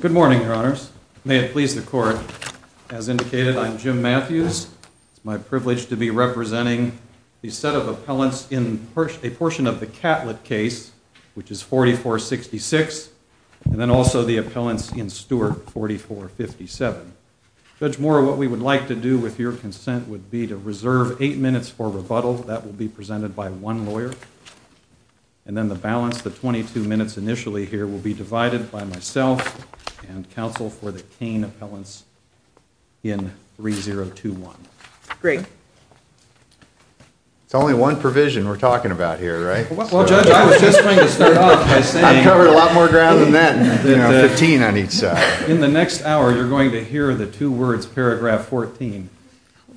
Good morning, your honors, may it please the court, as indicated, I'm Jim Matthews. My privilege to be representing a set of appellants in a portion of the Catlett case, which is 4466, and then also the appellants in Stewart 4457. Judge Mora, what we would like to do with your consent would be to reserve eight minutes for rebuttal. That will be presented by one lawyer. And then the balance, the 22 minutes initially here, will be divided by myself and counsel for the teen appellants in 3021. Great. There's only one provision we're talking about here, right? I covered a lot more ground than that. In the next hour, you're going to hear the two words, paragraph 14,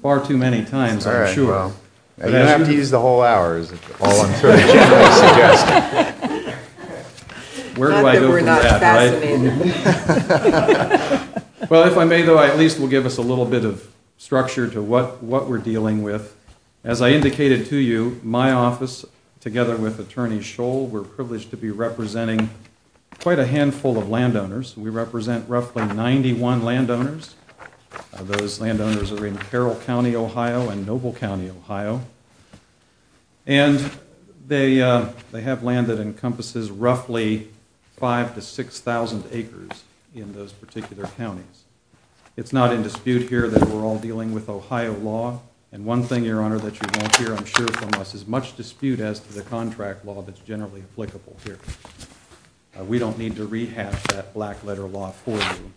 far too many times. All right, well, you don't have to use the whole hour. Where do I go from that, right? Well, if I may, though, I at least will give us a little bit of structure to what we're dealing with. As I indicated to you, my office, together with Attorney Scholl, we're privileged to be representing quite a handful of landowners. We represent roughly 91 landowners. Those landowners are in Carroll County, Ohio and Noble County, Ohio. And they have land that encompasses roughly 5,000 to 6,000 acres in those particular counties. It's not in dispute here that we're all dealing with Ohio law. And one thing, Your Honor, that you won't hear, I'm sure, from us is much dispute as to the contract law that's generally applicable here. We don't need to rehash that black letter law for you.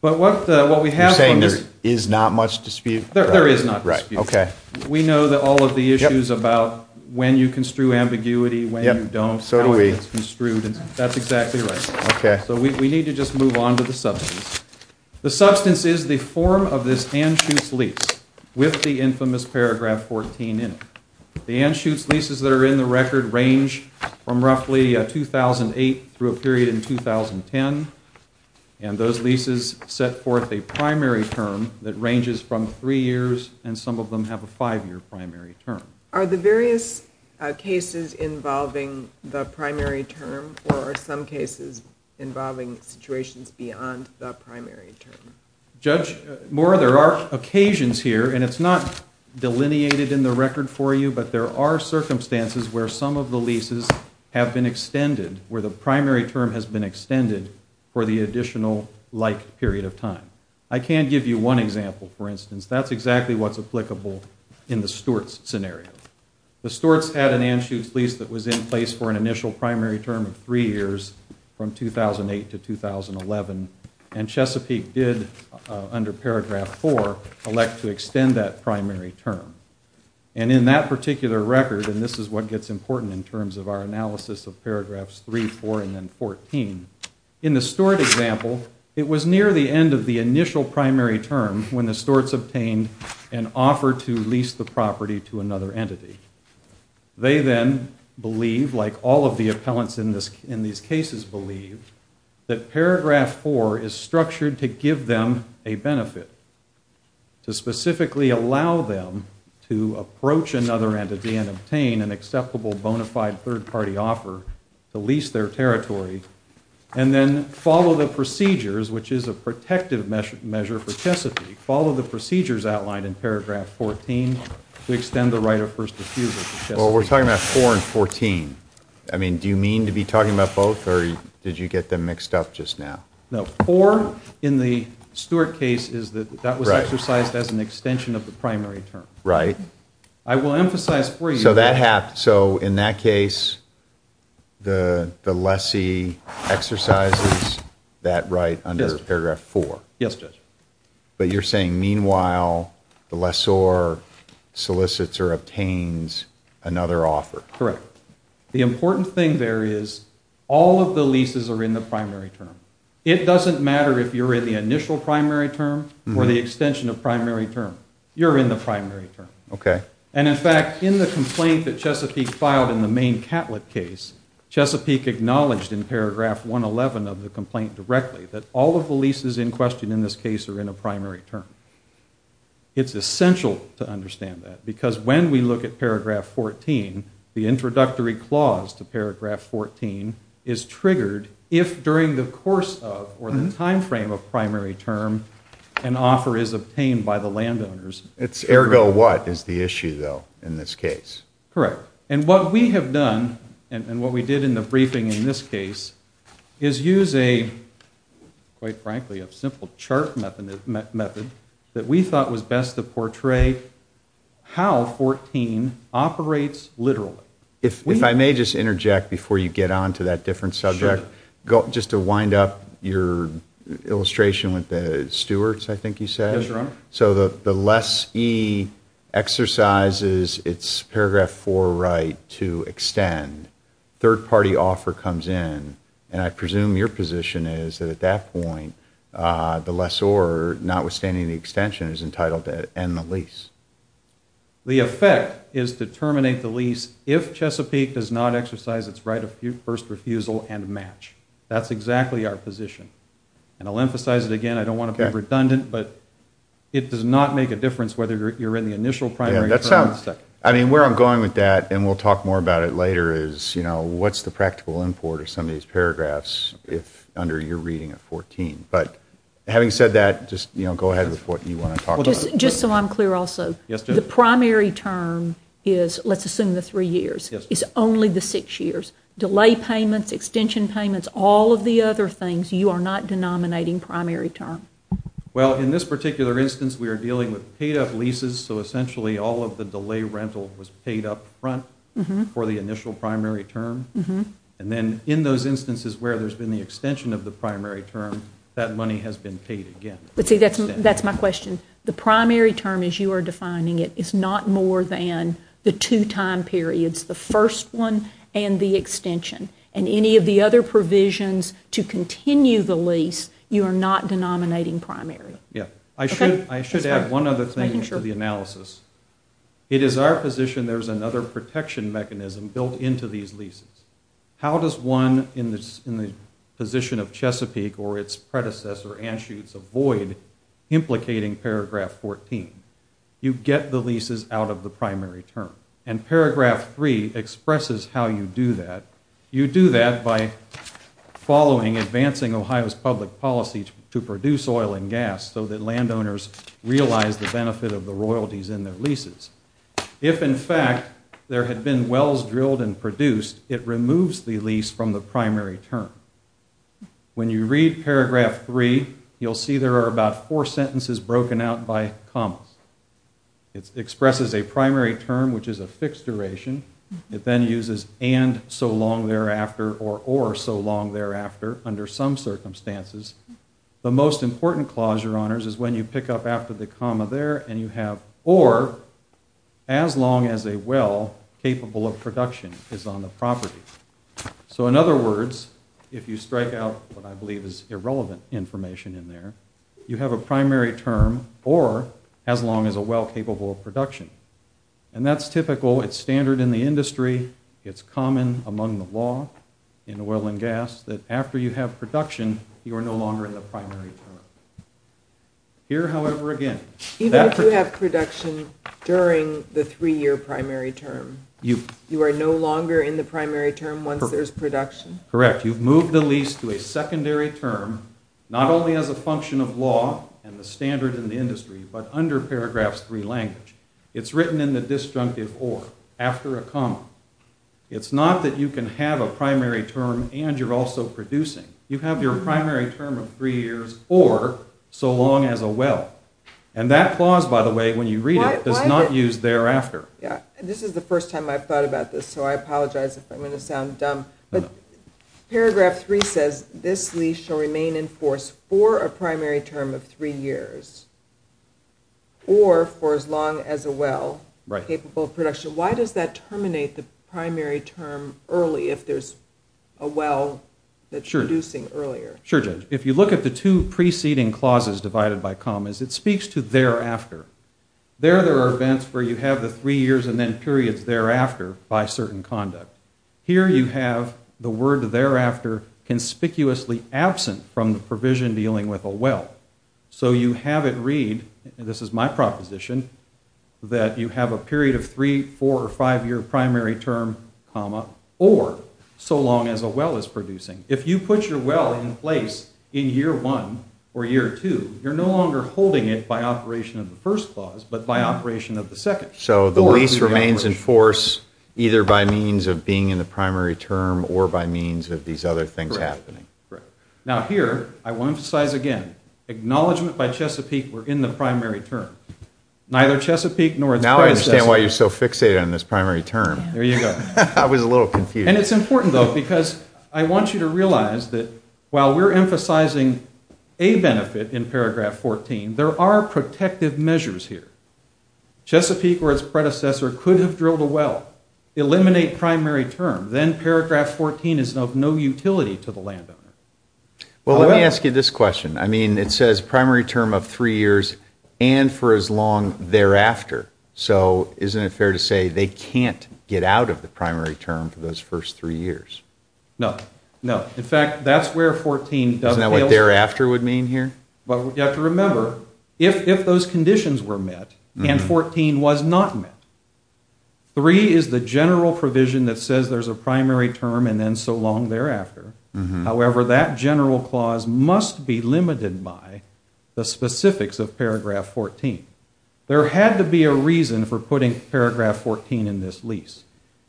But what we have on this- You're saying there is not much dispute? There is not much dispute. Okay. We know that all of the issues about when you construe ambiguity, when you don't, how it's construed, that's exactly right. Okay. So we need to just move on to the substance. The substance is the form of this Anschutz lease with the infamous paragraph 14 in it. The Anschutz leases that are in the record range from roughly 2008 through a period in 2010. And those leases set forth a primary term that ranges from three years and some of them have a five-year primary term. Are the various cases involving the primary term or are some cases involving situations beyond the primary term? Judge Moore, there are occasions here, and it's not delineated in the record for you, but there are circumstances where some of the leases have been extended, where the primary term has been extended for the additional like period of time. I can give you one example, for instance. That's exactly what's applicable in the Stewart's scenario. The Stewart's had an Anschutz lease that was in place for an initial primary term of three years from 2008 to 2011. And Chesapeake did, under paragraph 4, elect to extend that primary term. And in that particular record, and this is what gets important in terms of our analysis of paragraphs 3, 4, and then 14. In the Stewart example, it was near the end of the initial primary term when the Stewart's obtained an offer to lease the property to another entity. They then believe, like all of the appellants in these cases believe, that paragraph 4 is structured to give them a benefit, to specifically allow them to approach another entity and obtain an acceptable bona fide third-party offer to lease their territory, and then follow the procedures, which is a protective measure for Chesapeake. Follow the procedures outlined in paragraph 14 to extend the right of first refusal to Chesapeake. Well, we're talking about 4 and 14. I mean, do you mean to be talking about both, or did you get them mixed up just now? No, 4 in the Stewart case is that that was exercised as an extension of the primary term. Right. I will emphasize for you that... So in that case, the lessee exercises that right under paragraph 4. Yes, Judge. But you're saying, meanwhile, the lessor solicits or obtains another offer. Correct. The important thing there is all of the leases are in the primary term. It doesn't matter if you're in the initial primary term or the extension of primary term. You're in the primary term. Okay. And, in fact, in the complaint that Chesapeake filed in the main Catlett case, Chesapeake acknowledged in paragraph 111 of the complaint directly that all of the leases in question in this case are in a primary term. It's essential to understand that because when we look at paragraph 14, the introductory clause to paragraph 14 is triggered if during the course of or the timeframe of primary term an offer is obtained by the landowners. Ergo what is the issue, though, in this case? Correct. And what we have done and what we did in the briefing in this case is use a, quite frankly, a simple chart method that we thought was best to portray how 14 operates literally. If I may just interject before you get on to that different subject, just to wind up your illustration with the stewards, I think you said. That's right. So the lessee exercises its paragraph 4 right to extend. Third-party offer comes in. And I presume your position is that at that point the lessor, notwithstanding the extension, is entitled to end the lease. The effect is to terminate the lease if Chesapeake does not exercise its right of first refusal and match. That's exactly our position. And I'll emphasize it again. I don't want to be redundant, but it does not make a difference whether you're in the initial primary. I mean, where I'm going with that, and we'll talk more about it later, is what's the practical import of some of these paragraphs under your reading of 14. But having said that, just go ahead with what you want to talk about. Just so I'm clear also, the primary term is, let's assume the three years, is only the six years. Delay payments, extension payments, all of the other things, you are not denominating primary term. Well, in this particular instance, we are dealing with paid-up leases, so essentially all of the delay rental was paid up front for the initial primary term. And then in those instances where there's been the extension of the primary term, that money has been paid again. See, that's my question. The primary term as you are defining it is not more than the two time periods, the first one and the extension. And any of the other provisions to continue the lease, you are not denominating primary. I should add one other thing to the analysis. It is our position there's another protection mechanism built into these leases. How does one in the position of Chesapeake or its predecessor, Anschutz, avoid implicating paragraph 14? You get the leases out of the primary term. And paragraph 3 expresses how you do that. You do that by following advancing Ohio's public policy to produce oil and gas so that landowners realize the benefit of the royalties in their leases. If, in fact, there had been wells drilled and produced, it removes the lease from the primary term. When you read paragraph 3, you'll see there are about four sentences broken out by a comma. It expresses a primary term, which is a fixed duration. It then uses and so long thereafter or or so long thereafter under some circumstances. The most important clause, Your Honors, is when you pick up after the comma there and you have or as long as a well capable of production is on the property. So in other words, if you strike out what I believe is irrelevant information in there, you have a primary term or as long as a well capable of production. And that's typical. It's standard in the industry. It's common among the law in oil and gas that after you have production, you are no longer in the primary term. Here, however, again. Even if you have production during the three-year primary term, you are no longer in the primary term once there's production? Correct. You've moved the lease to a secondary term not only as a function of law and the standard in the industry, but under paragraph 3 language. It's written in the disjunctive or after a comma. It's not that you can have a primary term and you're also producing. You have your primary term of three years or so long as a well. And that clause, by the way, when you read it, is not used thereafter. This is the first time I've thought about this, so I apologize if I'm going to sound dumb. But paragraph 3 says this lease shall remain in force for a primary term of three years or for as long as a well capable of production. Why does that terminate the primary term early if there's a well that's producing earlier? Sure, Jim. If you look at the two preceding clauses divided by commas, it speaks to thereafter. There there are events where you have the three years and then periods thereafter by certain conduct. Here you have the word thereafter conspicuously absent from the provision dealing with a well. So you have it read, and this is my proposition, that you have a period of three, four, or five-year primary term comma for so long as a well is producing. If you put your well in place in year one or year two, you're no longer holding it by operation of the first clause but by operation of the second. So the lease remains in force either by means of being in the primary term or by means of these other things happening. Correct. Now here, I want to emphasize again, acknowledgment by Chesapeake, we're in the primary term. Neither Chesapeake nor... Now I understand why you're so fixated on this primary term. There you go. And it's important, though, because I want you to realize that while we're emphasizing a benefit in paragraph 14, there are protective measures here. Chesapeake or its predecessor could have drilled a well, eliminate primary term, then paragraph 14 is of no utility to the landowner. Well, let me ask you this question. I mean, it says primary term of three years and for as long thereafter. So isn't it fair to say they can't get out of the primary term for those first three years? No, no. In fact, that's where 14 doesn't... Isn't that what thereafter would mean here? But you have to remember, if those conditions were met and 14 was not met, three is the general provision that says there's a primary term and then so long thereafter. However, that general clause must be limited by the specifics of paragraph 14. There had to be a reason for putting paragraph 14 in this lease.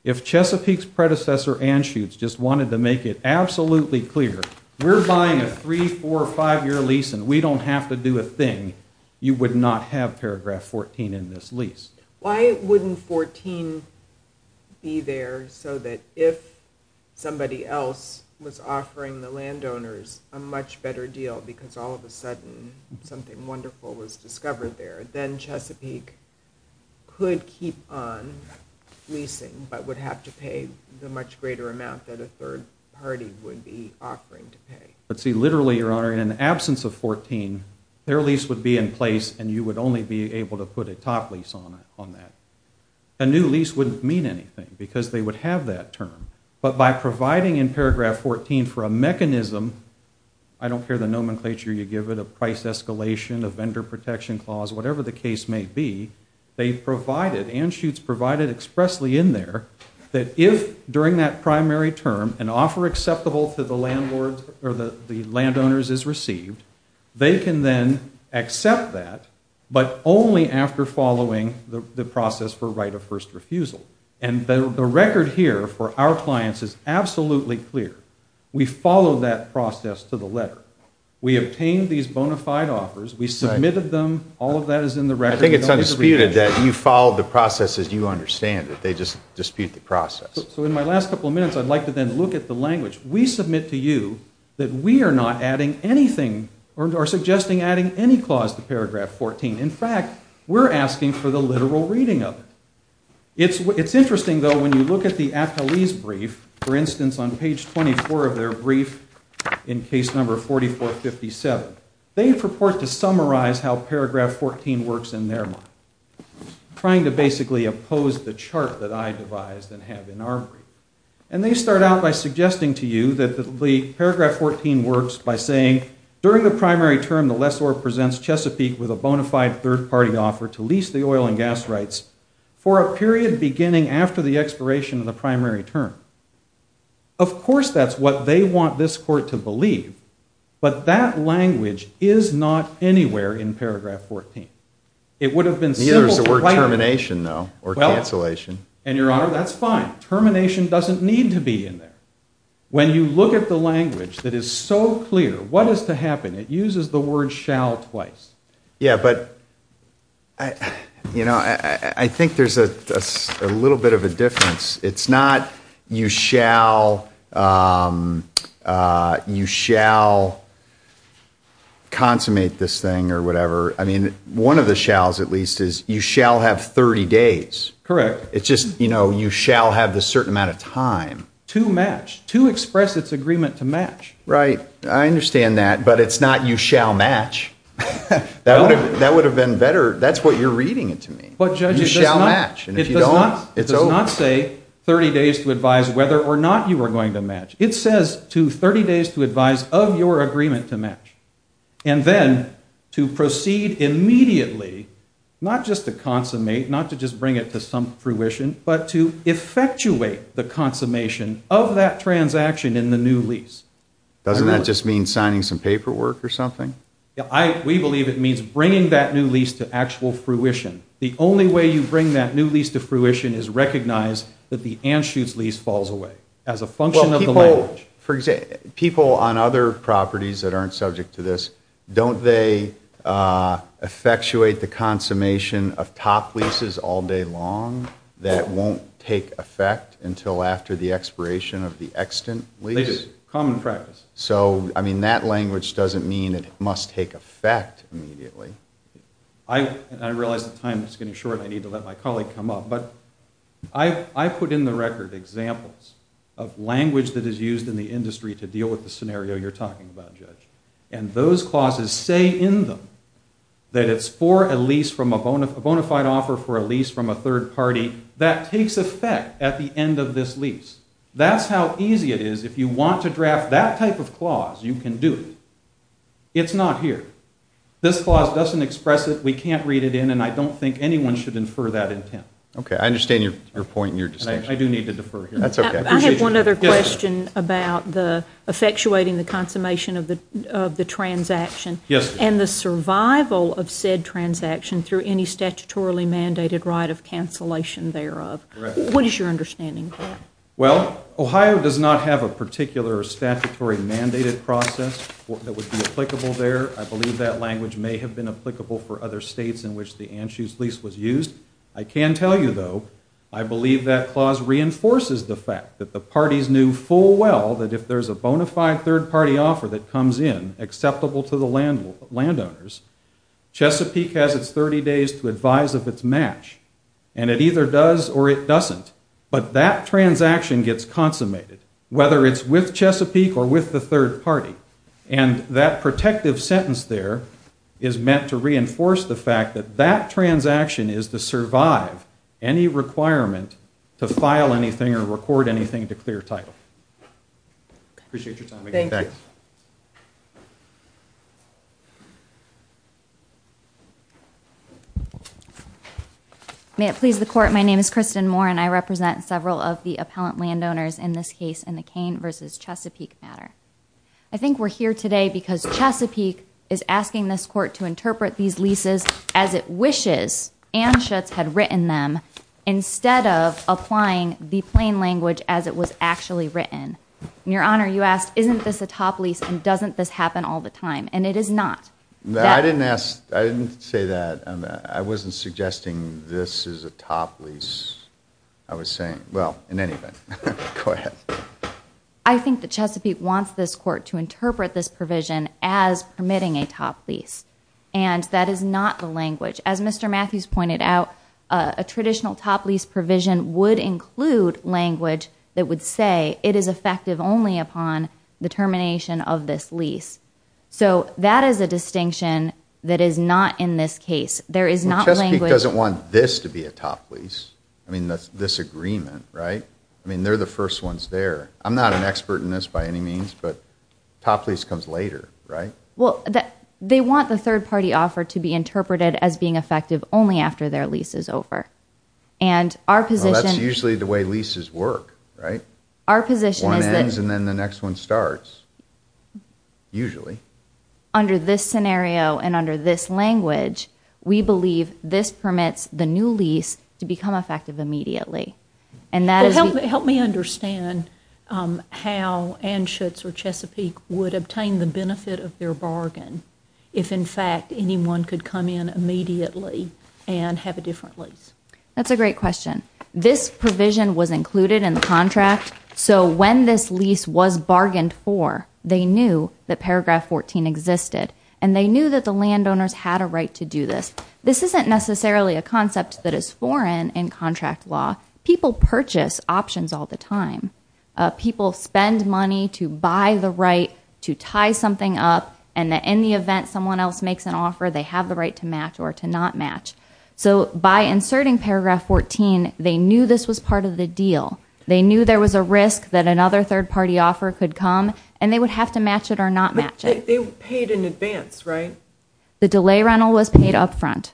If Chesapeake's predecessor, Anschutz, just wanted to make it absolutely clear, we're buying a three-, four-, five-year lease and we don't have to do a thing, you would not have paragraph 14 in this lease. Why wouldn't 14 be there so that if somebody else was offering the landowners a much better deal because all of a sudden something wonderful was discovered there, then Chesapeake could keep on leasing but would have to pay the much greater amount that a third party would be offering to pay. But see, literally, Your Honor, in the absence of 14, their lease would be in place and you would only be able to put a top lease on that. A new lease wouldn't mean anything because they would have that term. But by providing in paragraph 14 for a mechanism, I don't care the nomenclature you give it, the price escalation, the vendor protection clause, whatever the case may be, they provided, Anschutz provided expressly in there, that if during that primary term an offer acceptable to the landowners is received, they can then accept that but only after following the process for right of first refusal. And the record here for our clients is absolutely clear. We follow that process to the letter. We obtained these bona fide offers. We submitted them. All of that is in the record. I think it's undisputed that you follow the process as you understand it. They just dispute the process. So in my last couple of minutes, I'd like to then look at the language. We submit to you that we are not adding anything or suggesting adding any clause to paragraph 14. In fact, we're asking for the literal reading of it. It's interesting, though, when you look at the appellee's brief, for instance, on page 24 of their brief in case number 4457, they purport to summarize how paragraph 14 works in their mind, trying to basically oppose the chart that I devised and have in our brief. And they start out by suggesting to you that paragraph 14 works by saying, during the primary term the lessor presents Chesapeake with a bona fide third-party offer to lease the oil and gas rights for a period beginning after the expiration of the primary term. Of course, that's what they want this court to believe, but that language is not anywhere in paragraph 14. It would have been simple. Yeah, there's the word termination, though, or cancellation. And your Honor, that's fine. Termination doesn't need to be in there. When you look at the language that is so clear, what is to happen? It uses the word shall twice. Yeah, but, you know, I think there's a little bit of a difference. It's not you shall consummate this thing or whatever. I mean, one of the shalls, at least, is you shall have 30 days. Correct. It's just, you know, you shall have a certain amount of time. To match, to express its agreement to match. Right. I understand that, but it's not you shall match. That would have been better. That's what you're reading to me. You shall match. If you don't, it's over. It does not say 30 days to advise whether or not you are going to match. It says to 30 days to advise of your agreement to match. And then to proceed immediately, not just to consummate, not to just bring it to some fruition, but to effectuate the consummation of that transaction in the new lease. Doesn't that just mean signing some paperwork or something? We believe it means bringing that new lease to actual fruition. The only way you bring that new lease to fruition is recognize that the Anschutz lease falls away as a function of the leverage. People on other properties that aren't subject to this, don't they effectuate the consummation of top leases all day long that won't take effect until after the expiration of the extant lease? Common practice. So, I mean, that language doesn't mean it must take effect immediately. I realize the time is getting short. I need to let my colleague come up. But I put in the record examples of language that is used in the industry to deal with the scenario you're talking about, Judge. And those clauses say in them that it's for a lease from a bona fide offer for a lease from a third party that takes effect at the end of this lease. That's how easy it is. If you want to draft that type of clause, you can do it. It's not here. This clause doesn't express it. We can't read it in, and I don't think anyone should infer that intent. Okay. I understand your point and your distinction. I do need to defer here. That's okay. I have one other question about effectuating the consummation of the transaction and the survival of said transaction through any statutorily mandated right of cancellation thereof. What is your understanding of that? Well, Ohio does not have a particular statutory mandated process that would be applicable there. I believe that language may have been applicable for other states in which the Anschutz lease was used. I can tell you, though, I believe that clause reinforces the fact that the parties knew full well that if there's a bona fide third party offer that comes in acceptable for the landowners, Chesapeake has its 30 days to advise if it's matched. And it either does or it doesn't. But that transaction gets consummated, whether it's with Chesapeake or with the third party. And that protective sentence there is meant to reinforce the fact that that transaction is to survive any requirement to file anything or record anything to clear title. Appreciate your time. Thank you. May it please the court, my name is Kristen Moore, and I represent several of the appellant landowners in this case in the Kane versus Chesapeake matter. I think the Chesapeake wants this court to interpret these leases as it wishes Anschutz had written them instead of applying the plain language as it was actually written. Your Honor, you asked, isn't this a top lease and doesn't this happen all the time? And it is not. I didn't say that. I wasn't suggesting this is a top lease. I was saying, well, in any event, go ahead. I think the Chesapeake wants this court to interpret this provision as permitting a top lease. And that is not the language. As Mr. Matthews pointed out, a traditional top lease provision would include language that would say it is effective only upon the termination of this lease. So that is a distinction that is not in this case. There is not language. Chesapeake doesn't want this to be a top lease. I mean, that's disagreement, right? I mean, they're the first ones there. I'm not an expert in this by any means, but top lease comes later, right? Well, they want the third-party offer to be interpreted as being effective only after their lease is over. That's usually the way leases work, right? One ends and then the next one starts, usually. Under this scenario and under this language, we believe this permits the new lease to become effective immediately. Help me understand how Anschutz or Chesapeake would obtain the benefit of their bargain if, in fact, anyone could come in immediately and have a different lease. That's a great question. This provision was included in the contract, so when this lease was bargained for, they knew that Paragraph 14 existed and they knew that the landowners had a right to do this. This isn't necessarily a concept that is foreign in contract law. People purchase options all the time. People spend money to buy the right to tie something up and that in the event someone else makes an offer, they have the right to match or to not match. So by inserting Paragraph 14, they knew this was part of the deal. They knew there was a risk that another third-party offer could come and they would have to match it or not match it. But they paid in advance, right? The delay rental was paid up front.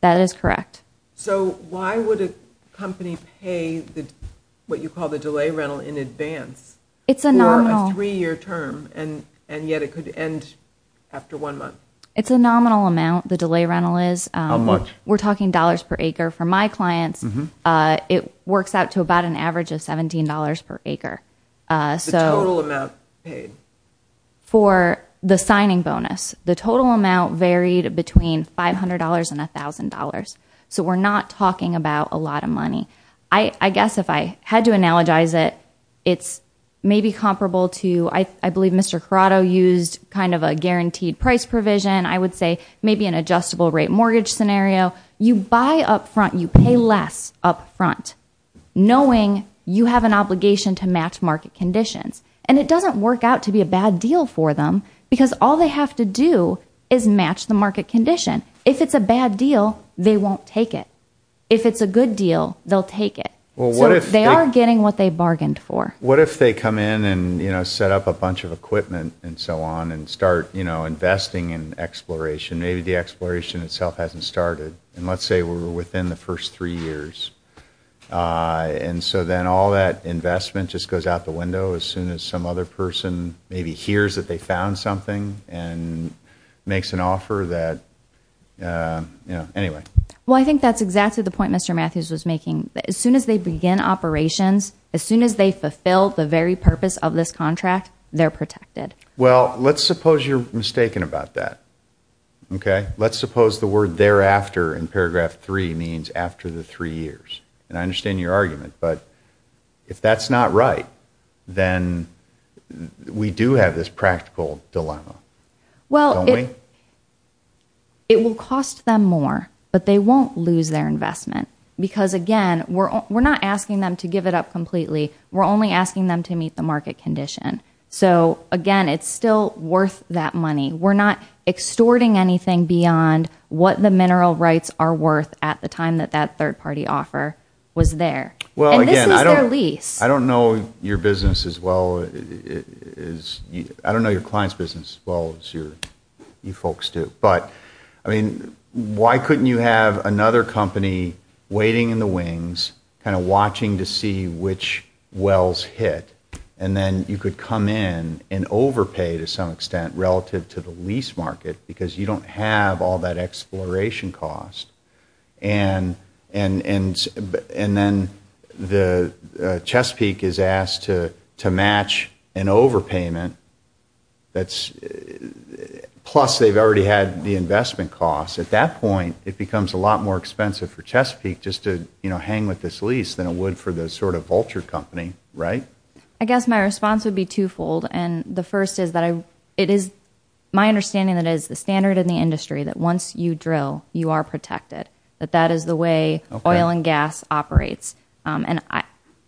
That is correct. So why would a company pay what you call the delay rental in advance? It's a nominal. For a three-year term and yet it could end after one month. It's a nominal amount, the delay rental is. How much? We're talking dollars per acre. For my client, it works out to about an average of $17 per acre. The total amount paid? For the signing bonus, the total amount varied between $500 and $1,000. So we're not talking about a lot of money. I guess if I had to analogize it, it's maybe comparable to, I believe Mr. Corrado used kind of a guaranteed price provision, I would say maybe an adjustable rate mortgage scenario. You buy up front, you pay less up front, knowing you have an obligation to match market conditions. And it doesn't work out to be a bad deal for them because all they have to do is match the market condition. If it's a bad deal, they won't take it. If it's a good deal, they'll take it. They are getting what they bargained for. What if they come in and set up a bunch of equipment and so on and start investing in exploration? Maybe the exploration itself hasn't started. And let's say we're within the first three years. And so then all that investment just goes out the window as soon as some other person maybe hears that they found something and makes an offer that, you know, anyway. Well, I think that's exactly the point Mr. Matthews was making. As soon as they begin operations, as soon as they fulfill the very purpose of this contract, they're protected. Well, let's suppose you're mistaken about that, okay? Let's suppose the word thereafter in paragraph 3 means after the three years. And I understand your argument, but if that's not right, then we do have this practical dilemma. Well, it will cost them more, but they won't lose their investment because, again, we're not asking them to give it up completely. We're only asking them to meet the market condition. So, again, it's still worth that money. We're not extorting anything beyond what the mineral rights are worth at the time that that third-party offer was there. And this was their lease. Well, again, I don't know your business as well as you folks do. But, I mean, why couldn't you have another company waiting in the wings, kind of watching to see which wells hit, and then you could come in and overpay to some extent relative to the lease market because you don't have all that exploration cost. And then Chesapeake is asked to match an overpayment. Plus, they've already had the investment cost. At that point, it becomes a lot more expensive for Chesapeake just to hang with this lease than it would for the sort of vulture company, right? I guess my response would be twofold. And the first is that it is my understanding that it is the standard in the industry that once you drill, you are protected, that that is the way oil and gas operates. And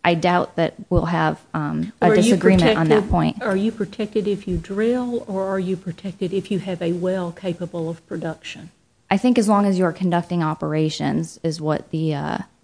I doubt that we'll have a disagreement on that point. Are you protected if you drill, or are you protected if you have a well capable of production? I think as long as you're conducting operations is what the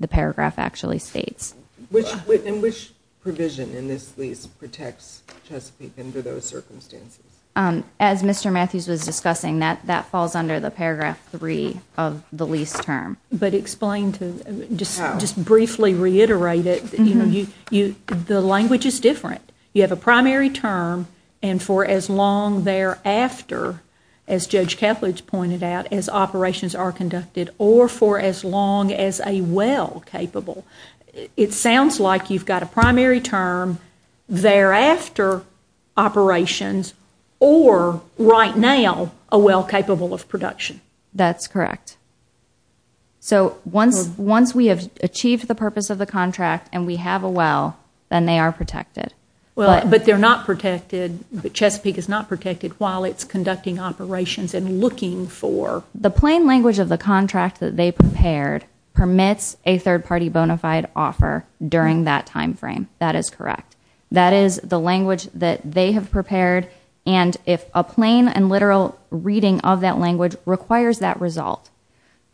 paragraph actually states. And which provision in this lease protects Chesapeake under those circumstances? As Mr. Matthews was discussing, that falls under the paragraph three of the lease term. But explain to me, just briefly reiterate it. The language is different. You have a primary term, and for as long thereafter, as Judge Catledge pointed out, as operations are conducted, or for as long as a well capable. It sounds like you've got a primary term, thereafter operations, or right now a well capable of production. That's correct. So once we have achieved the purpose of the contract and we have a well, then they are protected. But they're not protected, but Chesapeake is not protected while it's conducting operations and looking for... The plain language of the contract that they prepared permits a third party bona fide offer during that time frame. That is correct. That is the language that they have prepared, and if a plain and literal reading of that language requires that result,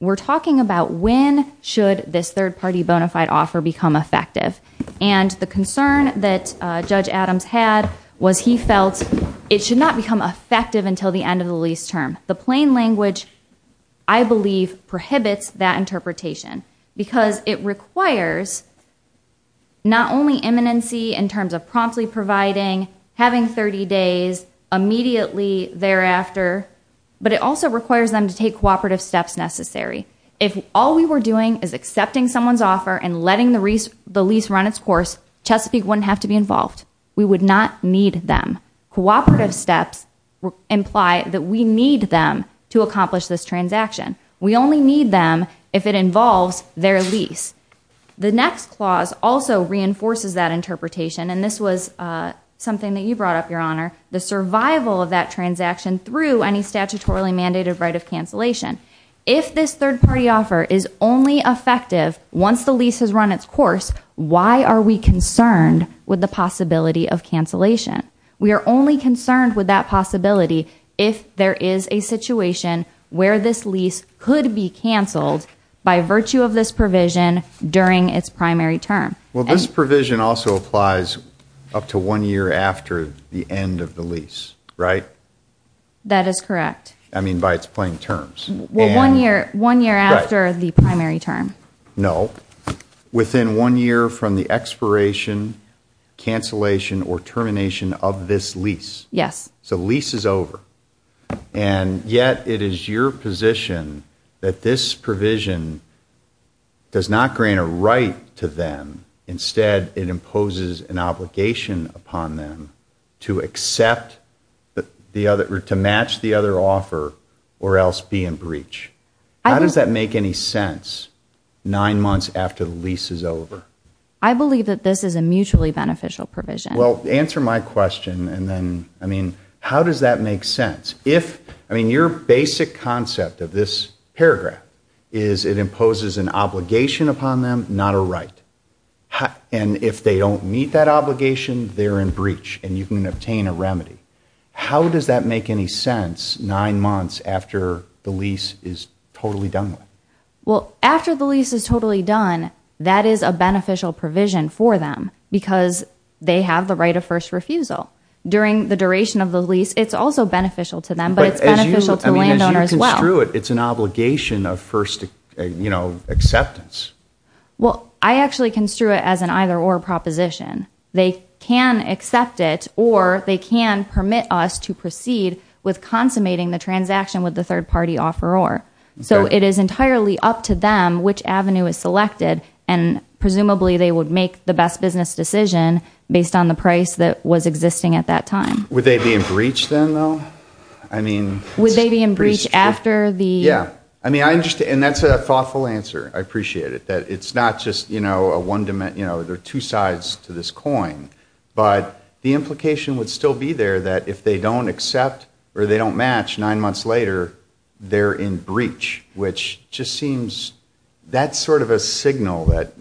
we're talking about when should this third party bona fide offer become effective. And the concern that Judge Adams had was he felt it should not become effective until the end of the lease term. The plain language, I believe, prohibits that interpretation because it requires not only imminency in terms of promptly providing, having 30 days, immediately thereafter, but it also requires them to take cooperative steps necessary. If all we were doing is accepting someone's offer and letting the lease run its course, Chesapeake wouldn't have to be involved. We would not need them. Cooperative steps imply that we need them to accomplish this transaction. We only need them if it involves their lease. The next clause also reinforces that interpretation, and this was something that you brought up, Your Honor, the survival of that transaction through any statutorily mandated right of cancellation. If this third party offer is only effective once the lease has run its course, why are we concerned with the possibility of cancellation? We are only concerned with that possibility if there is a situation where this lease could be canceled by virtue of this provision during its primary term. Well, this provision also applies up to one year after the end of the lease, right? That is correct. I mean by its plain terms. Well, one year after the primary term. No. Within one year from the expiration, cancellation, or termination of this lease. Yes. So the lease is over. And yet it is your position that this provision does not grant a right to them. Instead, it imposes an obligation upon them to accept the other, to match the other offer or else be in breach. How does that make any sense nine months after the lease is over? I believe that this is a mutually beneficial provision. Well, answer my question and then, I mean, how does that make sense? If, I mean, your basic concept of this paragraph is it imposes an obligation upon them, not a right. And if they don't meet that obligation, they are in breach and you can obtain a remedy. How does that make any sense nine months after the lease is totally done? Well, after the lease is totally done, that is a beneficial provision for them because they have the right of first refusal. During the duration of the lease, it's also beneficial to them, but it's beneficial for the landowner as well. But as you construe it, it's an obligation of first, you know, acceptance. Well, I actually construe it as an either-or proposition. They can accept it or they can permit us to proceed with consummating the transaction with the third-party offeror. So it is entirely up to them which avenue is selected and presumably they would make the best business decision based on the price that was existing at that time. Would they be in breach then, though? I mean... Would they be in breach after the... Yeah. I mean, I understand. And that's a thoughtful answer. I appreciate it. It's not just, you know, a one-dimensional... You know, there are two sides to this coin. But the implication would still be there that if they don't accept or they don't match nine months later, they're in breach, which just seems... That's sort of a signal that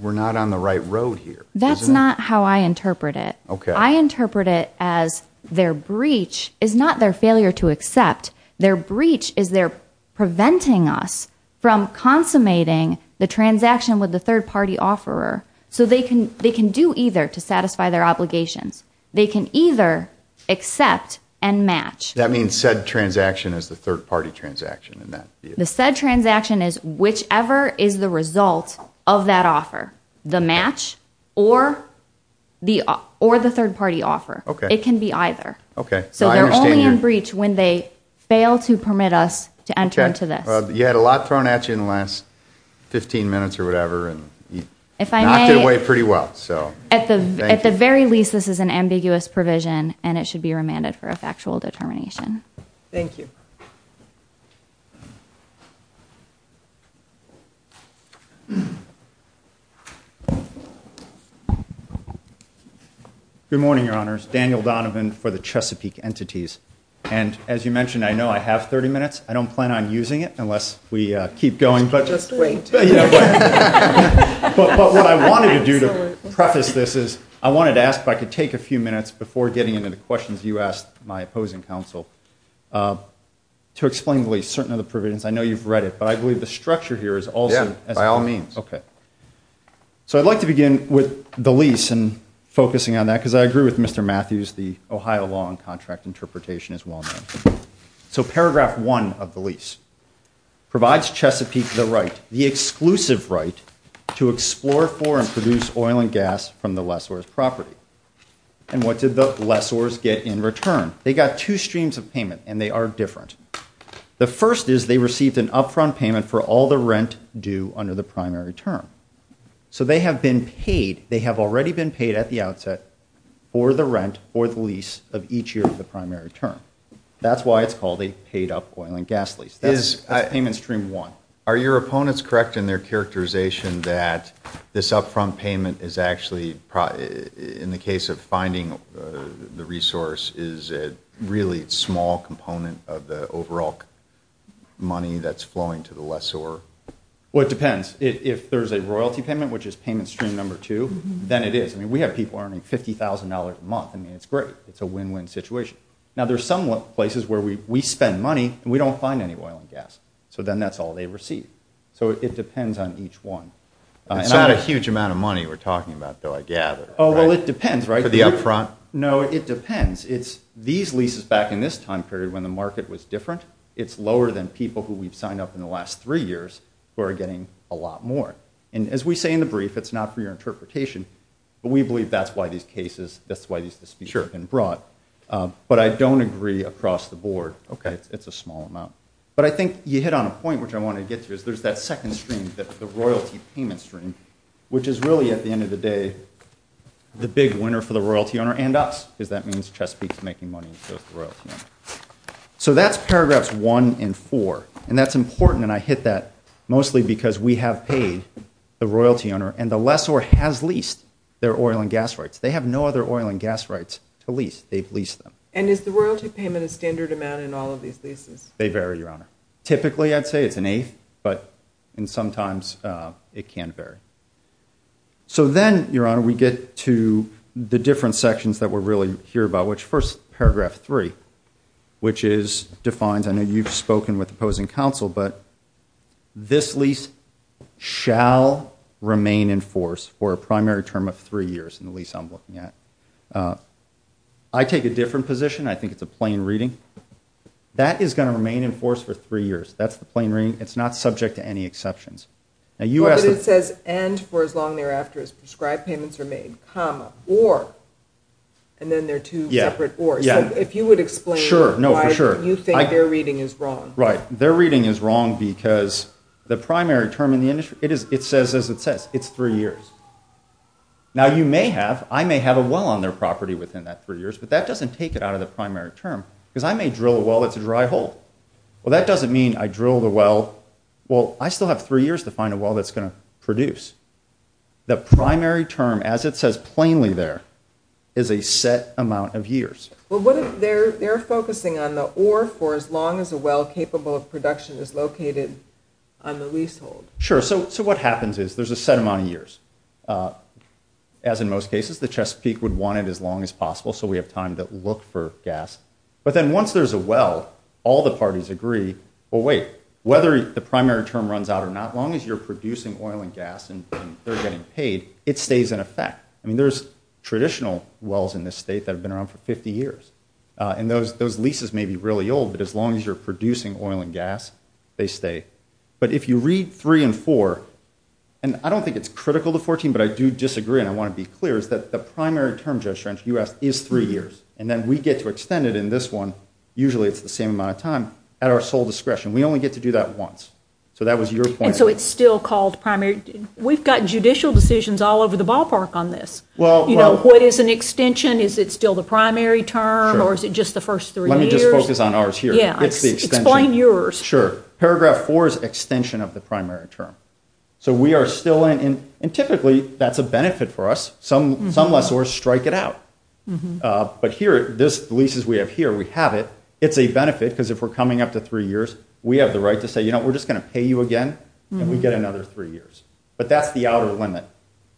we're not on the right road here. That's not how I interpret it. I interpret it as their breach is not their failure to accept. Their breach is they're preventing us from consummating the transaction with the third-party offeror. So they can do either to satisfy their obligation. They can either accept and match. That means said transaction is the third-party transaction in that case. The said transaction is whichever is the result of that offer, the match or the third-party offer. It can be either. So they're only in breach when they fail to permit us to enter into this. You had a lot thrown at you in the last 15 minutes or whatever, and you knocked it away pretty well. At the very least, this is an ambiguous provision, and it should be remanded for a factual determination. Thank you. Good morning, Your Honors. Daniel Donovan for the Chesapeake Entities. And as you mentioned, I know I have 30 minutes. I don't plan on using it unless we keep going. Just wait. But what I wanted to do to preface this is I wanted to ask if I could take a few minutes before getting into the questions you asked my opposing counsel to explain what we're doing. I know you've read it, but I believe the structure here is all good. Yeah, by all means. Okay. So I'd like to begin with the lease and focusing on that, because I agree with Mr. Matthews, the Ohio law and contract interpretation is well-known. So paragraph one of the lease provides Chesapeake the right, the exclusive right, to explore for and produce oil and gas from the lessors' property. And what did the lessors get in return? They got two streams of payment, and they are different. The first is they received an upfront payment for all the rent due under the primary term. So they have been paid. They have already been paid at the outset for the rent or the lease of each year of the primary term. That's why it's called a paid up oil and gas lease. That is payment stream one. Are your opponents correct in their characterization that this upfront payment is actually, in the case of finding the resource, is a really small component of the overall money that's flowing to the lessor? Well, it depends. If there's a royalty payment, which is payment stream number two, then it is. I mean, we have people earning $50,000 a month. I mean, it's great. It's a win-win situation. Now, there's some places where we spend money, and we don't find any oil and gas. So then that's all they receive. So it depends on each one. It's not a huge amount of money we're talking about, though, I gather. Oh, well, it depends, right? For the upfront? No, it depends. It's these leases back in this time period, when the market was different, it's lower than people who we've signed up in the last three years who are getting a lot more. And as we say in the brief, it's not for your interpretation, but we believe that's why these cases, that's why these fees have been brought. But I don't agree across the board. Okay. It's a small amount. But I think you hit on a point, which I want to get to, is there's that second stream, the royalty payment stream, which is really, at the end of the day, the big winner for the royalty owner and us, because that means Chesapeake's making money, so it's the royalty owner. So that's paragraphs one and four, and that's important, and I hit that mostly because we have paid the royalty owner, and the lessor has leased their oil and gas rights. They have no other oil and gas rights to lease. They've leased them. And is the royalty payment a standard amount in all of these leases? They vary, Your Honor. Typically, I'd say it's an eight, but sometimes it can vary. So then, Your Honor, we get to the different sections that we're really here about, which first, paragraph three, which is defined. I know you've spoken with opposing counsel, but this lease shall remain in force for a primary term of three years in the lease I'm looking at. I take a different position. I think it's a plain reading. That is going to remain in force for three years. That's the plain reading. It's not subject to any exceptions. But it says, and for as long thereafter as prescribed payments are made, comma, or, and then there are two separate ors. If you would explain why you think their reading is wrong. Right. Their reading is wrong because the primary term in the industry, it says as it says, it's three years. Now, you may have, I may have a well on their property within that three years, but that doesn't take it out of the primary term because I may drill a well that's a dry hole. Well, that doesn't mean I drill the well, well, I still have three years to find a well that's going to produce. The primary term, as it says plainly there, is a set amount of years. Well, what if they're focusing on the or for as long as a well capable of production is located on the leasehold? Sure. So what happens is there's a set amount of years. As in most cases, the Chesapeake would want it as long as possible so we have time to look for gas. But then once there's a well, all the parties agree, well, wait, whether the primary term runs out or not, as long as you're producing oil and gas and they're getting paid, it stays in effect. I mean, there's traditional wells in this state that have been around for 50 years. And those leases may be really old, but as long as you're producing oil and gas, they stay. But if you read three and four, and I don't think it's critical to 14, but I do disagree, and I want to be clear, is that the primary term, as you asked, is three years. And then we get to extend it in this one, usually it's the same amount of time, at our sole discretion. We only get to do that once. So that was your point. And so it's still called primary. We've got judicial decisions all over the ballpark on this. You know, what is an extension? Is it still the primary term or is it just the first three years? Let me just focus on ours here. Yeah. Explain yours. Sure. Paragraph four is extension of the primary term. So we are still in, and typically that's a benefit for us. Some lessors strike it out. But here, the leases we have here, we have it. It's a benefit because if we're coming up to three years, we have the right to say, you know, we're just going to pay you again and we get another three years. But that's the hour limit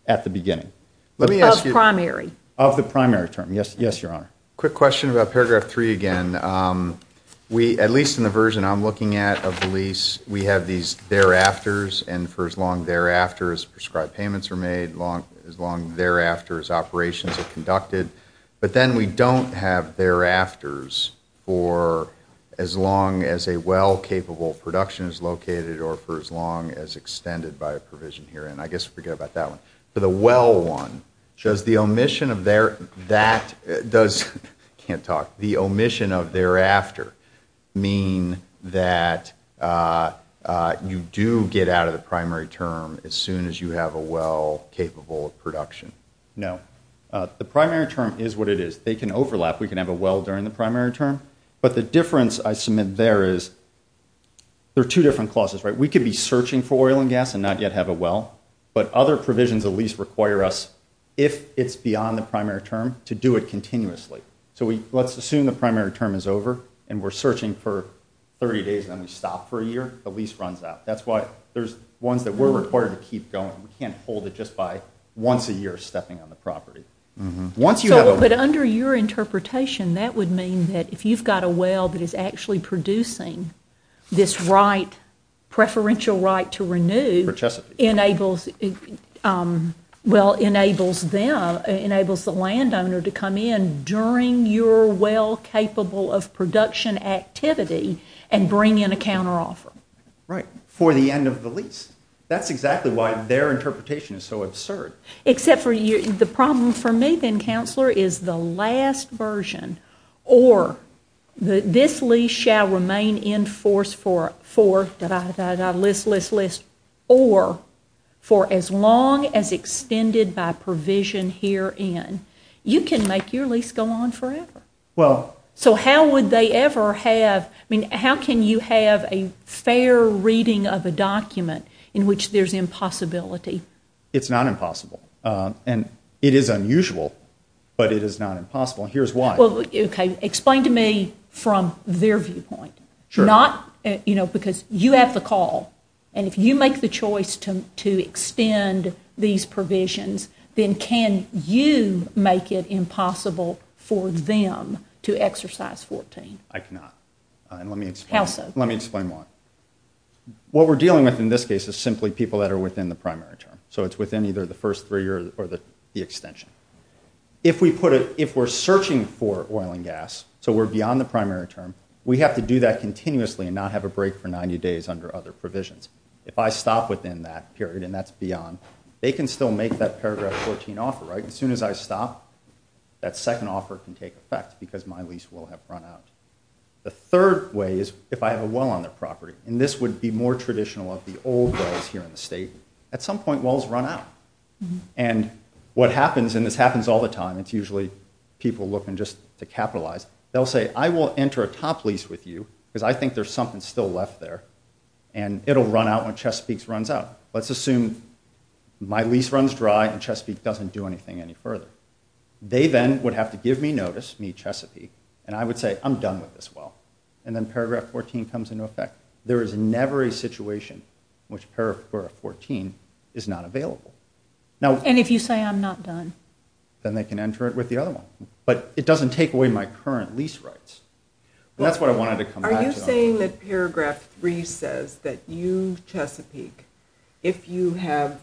at the beginning. Of primary. Of the primary term. Yes, Your Honor. Quick question about paragraph three again. At least in the version I'm looking at of the lease, we have these thereafters, and for as long thereafter as prescribed payments are made, as long thereafter as operations are conducted. But then we don't have thereafters for as long as a well-capable production is located or for as long as extended by a provision here. And I guess forget about that one. For the well one, does the omission of thereafter mean that you do get out of the primary term as soon as you have a well-capable production? No. The primary term is what it is. They can overlap. We can have a well during the primary term. But the difference I submit there is there are two different clauses, right? We could be searching for oil and gas and not yet have a well. But other provisions of a lease require us, if it's beyond the primary term, to do it continuously. So let's assume the primary term is over and we're searching for 30 days and then we stop for a year. The lease runs out. That's why there's ones that we're required to keep going. We can't hold it just by once a year stepping on the property. But under your interpretation, that would mean that if you've got a well that is actually producing this preferential right to renew, well, it enables the landowner to come in during your well-capable of production activity and bring in a counteroffer. Right. For the end of the lease. That's exactly why their interpretation is so absurd. Except for you. The problem for me then, counselor, is the last version. Or this lease shall remain in force for... list, list, list. Or for as long as extended by provision herein. You can make your lease go on forever. Well... So how would they ever have... I mean, how can you have a fair reading of a document in which there's impossibility? It's not impossible. And it is unusual, but it is not impossible. And here's why. Okay. Explain to me from their viewpoint. Sure. Not, you know, because you have the call. And if you make the choice to extend these provisions, then can you make it impossible for them to exercise 14? I cannot. And let me explain more. What we're dealing with in this case is simply people that are within the primary term. So it's within either the first three or the extension. If we're searching for oil and gas, so we're beyond the primary term, we have to do that continuously and not have a break for 90 days under other provisions. If I stop within that period and that's beyond, they can still make that paragraph 14 offer, right? As soon as I stop, that second offer can take effect because my lease will have run out. The third way is if I have a well on the property. And this would be more traditional of the old wells here in the state. At some point, wells run out. And what happens, and this happens all the time, it's usually people looking just to capitalize, they'll say, I will enter a top lease with you because I think there's something still left there, and it'll run out when Chesapeake's runs out. Let's assume my lease runs dry and Chesapeake doesn't do anything any further. They then would have to give me notice, me, Chesapeake, and I would say, I'm done with this well. And then paragraph 14 comes into effect. There is never a situation in which paragraph 14 is not available. And if you say, I'm not done? Then they can enter it with the other one. But it doesn't take away my current lease rights. That's what I wanted to come back to. Are you saying that paragraph three says that you, Chesapeake, if you have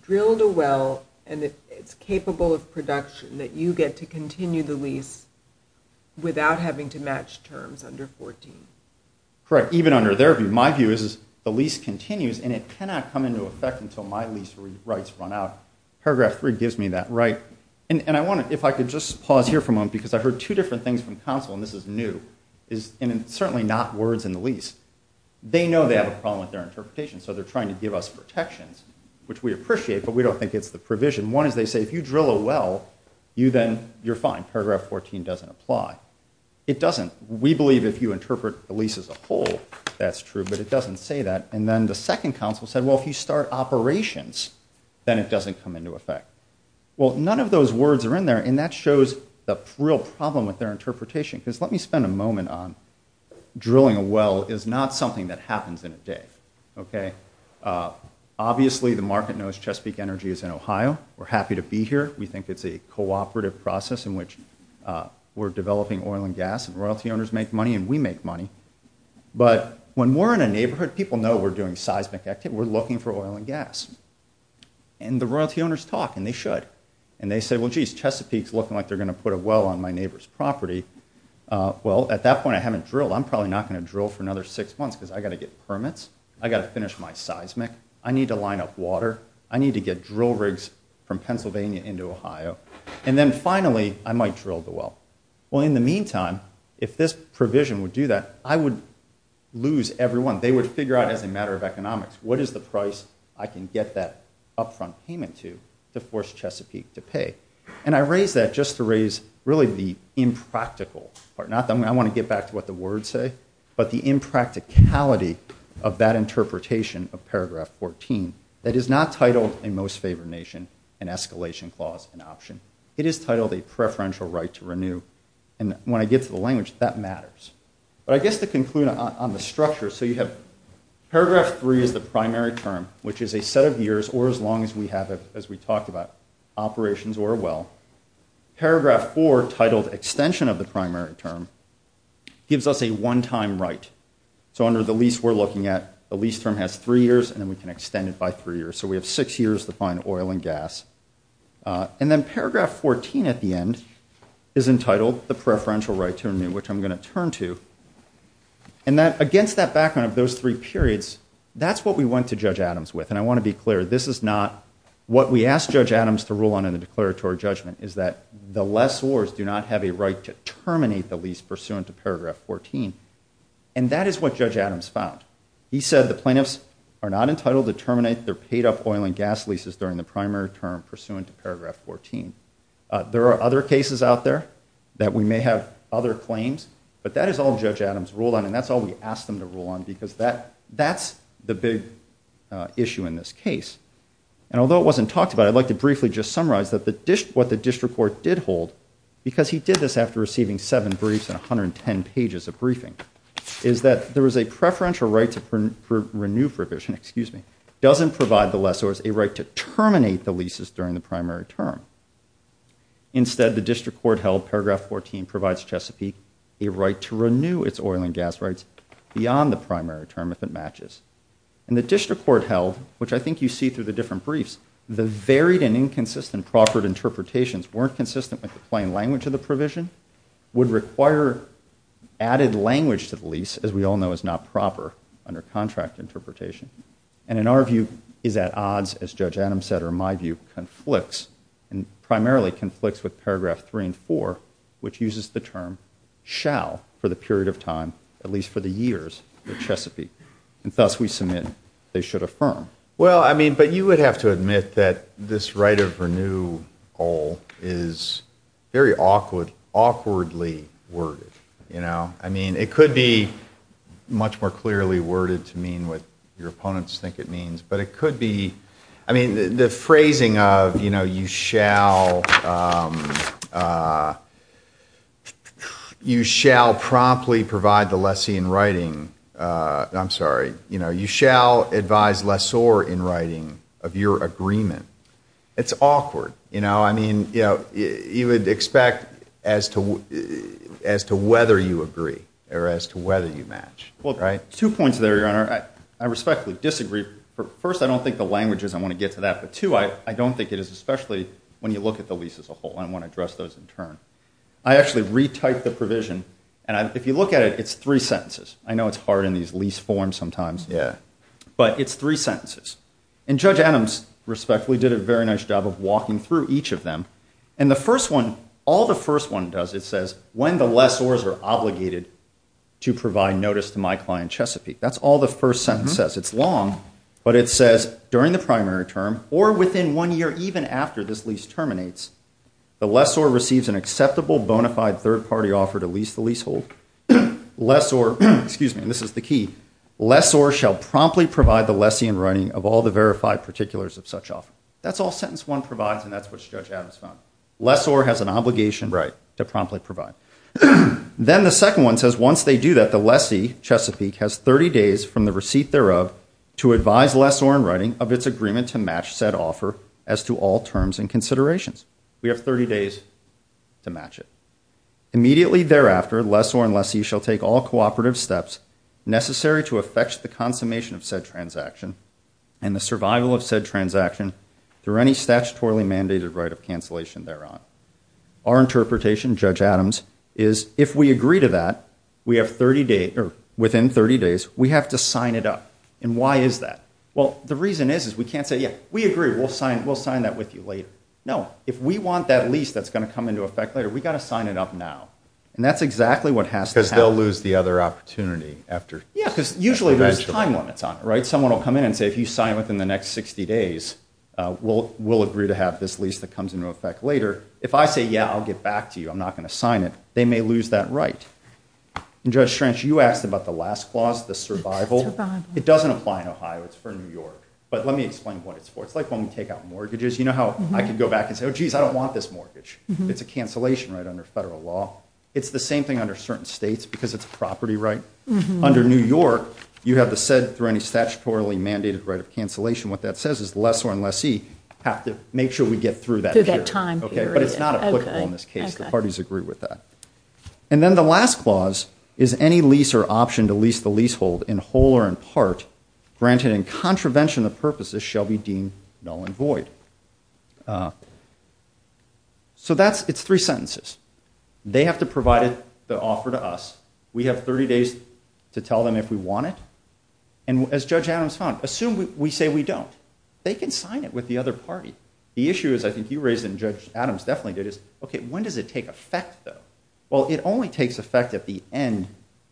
drilled a well and it's capable of production, that you get to continue the lease without having to match terms under 14? Correct, even under their view. My view is the lease continues and it cannot come into effect until my lease rights run out. Paragraph three gives me that right. And I wanted, if I could just pause here for a moment, because I've heard two different things from counsel, and this is new, and it's certainly not words in the lease. They know they have a problem with their interpretation, so they're trying to give us protections, which we appreciate, but we don't think it's the provision. One is they say, if you drill a well, you're fine. Paragraph 14 doesn't apply. It doesn't. We believe if you interpret the lease as a whole, that's true, but it doesn't say that. And then the second counsel said, well, if you start operations, then it doesn't come into effect. Well, none of those words are in there, and that shows the real problem with their interpretation. Because let me spend a moment on drilling a well is not something that happens in a day, okay? Obviously, the market knows Chesapeake Energy is in Ohio. We're happy to be here. We think it's a cooperative process in which we're developing oil and gas, and royalty owners make money, and we make money. But when we're in a neighborhood, people know we're doing seismic activity. We're looking for oil and gas. And the royalty owners talk, and they should. And they say, well, geez, Chesapeake's looking like they're going to put a well on my neighbor's property. Well, at that point, I haven't drilled. I'm probably not going to drill for another six months because I've got to get permits. I've got to finish my seismic. I need to line up water. I need to get drill rigs from Pennsylvania into Ohio. And then finally, I might drill the well. Well, in the meantime, if this provision would do that, I would lose everyone. They would figure out as a matter of economics, what is the price I can get that upfront payment to to force Chesapeake to pay? And I raise that just to raise really the impractical part. Not that I want to get back to what the words say, but the impracticality of that interpretation of paragraph 14. That is not titled a most favored nation, an escalation clause, an option. It is titled a preferential right to renew. And when I get to the language, that matters. But I guess to conclude on the structure, so you have paragraph three is the primary term, which is a set of years or as long as we have it, as we talked about, operations or a well. Paragraph four, titled extension of the primary term, gives us a one-time right. So under the lease we're looking at, the lease term has three years and we can extend it by three years. So we have six years to find oil and gas. And then paragraph 14 at the end is entitled the preferential right to renew, which I'm going to turn to. And against that background of those three periods, that's what we went to Judge Adams with. And I want to be clear, this is not what we asked Judge Adams to rule on in a declaratory judgment, is that the lessors do not have a right to terminate the lease pursuant to paragraph 14. And that is what Judge Adams found. He said the plaintiffs are not entitled to terminate their paid-up oil and gas leases during the primary term pursuant to paragraph 14. There are other cases out there that we may have other claims, but that is all Judge Adams ruled on and that's all we asked him to rule on because that's the big issue in this case. And although it wasn't talked about, I'd like to briefly just summarize what the district court did hold because he did this after receiving seven briefs and 110 pages of briefing, is that there was a preferential right to renew provision, doesn't provide the lessors a right to terminate the leases during the primary term. Instead, the district court held paragraph 14 provides Chesapeake a right to renew its oil and gas rights beyond the primary term if it matches. And the district court held, which I think you see through the different briefs, the varied and inconsistent proffered interpretations weren't consistent with the plain language of the provision, would require added language to the lease, as we all know is not proper under contract interpretation, and in our view is at odds, as Judge Adams said, or in my view conflicts, and primarily conflicts with paragraph 3 and 4, which uses the term shall for the period of time, at least for the years of Chesapeake, and thus we submit they should affirm. Well, I mean, but you would have to admit that this right of renew goal is very awkwardly worded, you know. I mean, it could be much more clearly worded to mean what your opponents think it means, but it could be, I mean, the phrasing of, you know, you shall promptly provide the lessee in writing, I'm sorry, you know, or advise lessor in writing of your agreement. It's awkward, you know. I mean, you would expect as to whether you agree or as to whether you match. Two points there, Your Honor. I respectfully disagree. First, I don't think the language is I want to get to that, but two, I don't think it is, especially when you look at the lease as a whole, I want to address those in turn. I actually retyped the provision, and if you look at it, it's three sentences. I know it's hard in these lease forms sometimes. Yeah. But it's three sentences. And Judge Adams respectfully did a very nice job of walking through each of them. And the first one, all the first one does, it says when the lessors are obligated to provide notice to my client, Chesapeake. That's all the first sentence says. It's long, but it says during the primary term or within one year, even after this lease terminates, the lessor receives an acceptable bona fide third-party offer to lease the leasehold. Lessor, excuse me, this is the key, lessor shall promptly provide the lessee in writing of all the verified particulars of such offer. That's all sentence one provides, and that's what Judge Adams found. Lessor has an obligation to promptly provide. Then the second one says once they do that, the lessee, Chesapeake, has 30 days from the receipt thereof to advise lessor in writing of its agreement to match said offer as to all terms and considerations. We have 30 days to match it. Immediately thereafter, lessor and lessee shall take all cooperative steps necessary to effect the consummation of said transaction and the survival of said transaction through any statutorily mandated right of cancellation thereof. Our interpretation, Judge Adams, is if we agree to that, we have 30 days, or within 30 days, we have to sign it up, and why is that? Well, the reason is we can't say, yes, we agree, we'll sign that with you later. No, if we want that lease that's going to come into effect later, we've got to sign it up now, and that's exactly what has to happen. Because they'll lose the other opportunity after. Yeah, because usually there's time on the time, right? Someone will come in and say, if you sign within the next 60 days, we'll agree to have this lease that comes into effect later. If I say, yeah, I'll get back to you, I'm not going to sign it, they may lose that right. And Judge Schrench, you asked about the last clause, the survival. It doesn't apply in Ohio, it's for New York, but let me explain what it's for. It's like when we take out mortgages, you know how I can go back and say, oh, jeez, I don't want this mortgage. It's a cancellation right under federal law. It's the same thing under certain states because it's a property right. Under New York, you have to set for any statutorily mandated right of cancellation. What that says is the lessor and lessee have to make sure we get through that period. But it's not applicable in this case, the parties agree with that. And then the last clause is any lease or option to lease the leasehold in whole or in part, granted in contravention of purposes, shall be deemed null and void. So that's, it's three sentences. They have to provide the offer to us. We have 30 days to tell them if we want it. And as Judge Adams found, assume we say we don't. They can sign it with the other party. The issue is, I think you raised it and Judge Adams definitely did, is okay, when does it take effect though? Well, it only takes effect at the end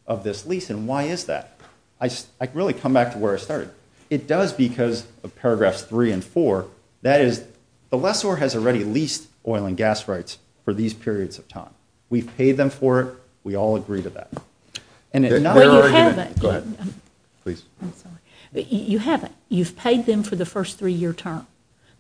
of this lease and why is that? I really come back to where I started. It does because of paragraphs three and four. That is, the lessor has already leased oil and gas rights for these periods of time. We've paid them for it, we all agree to that. And it's not... You haven't. Go ahead. Please. You haven't. You've paid them for the first three-year term.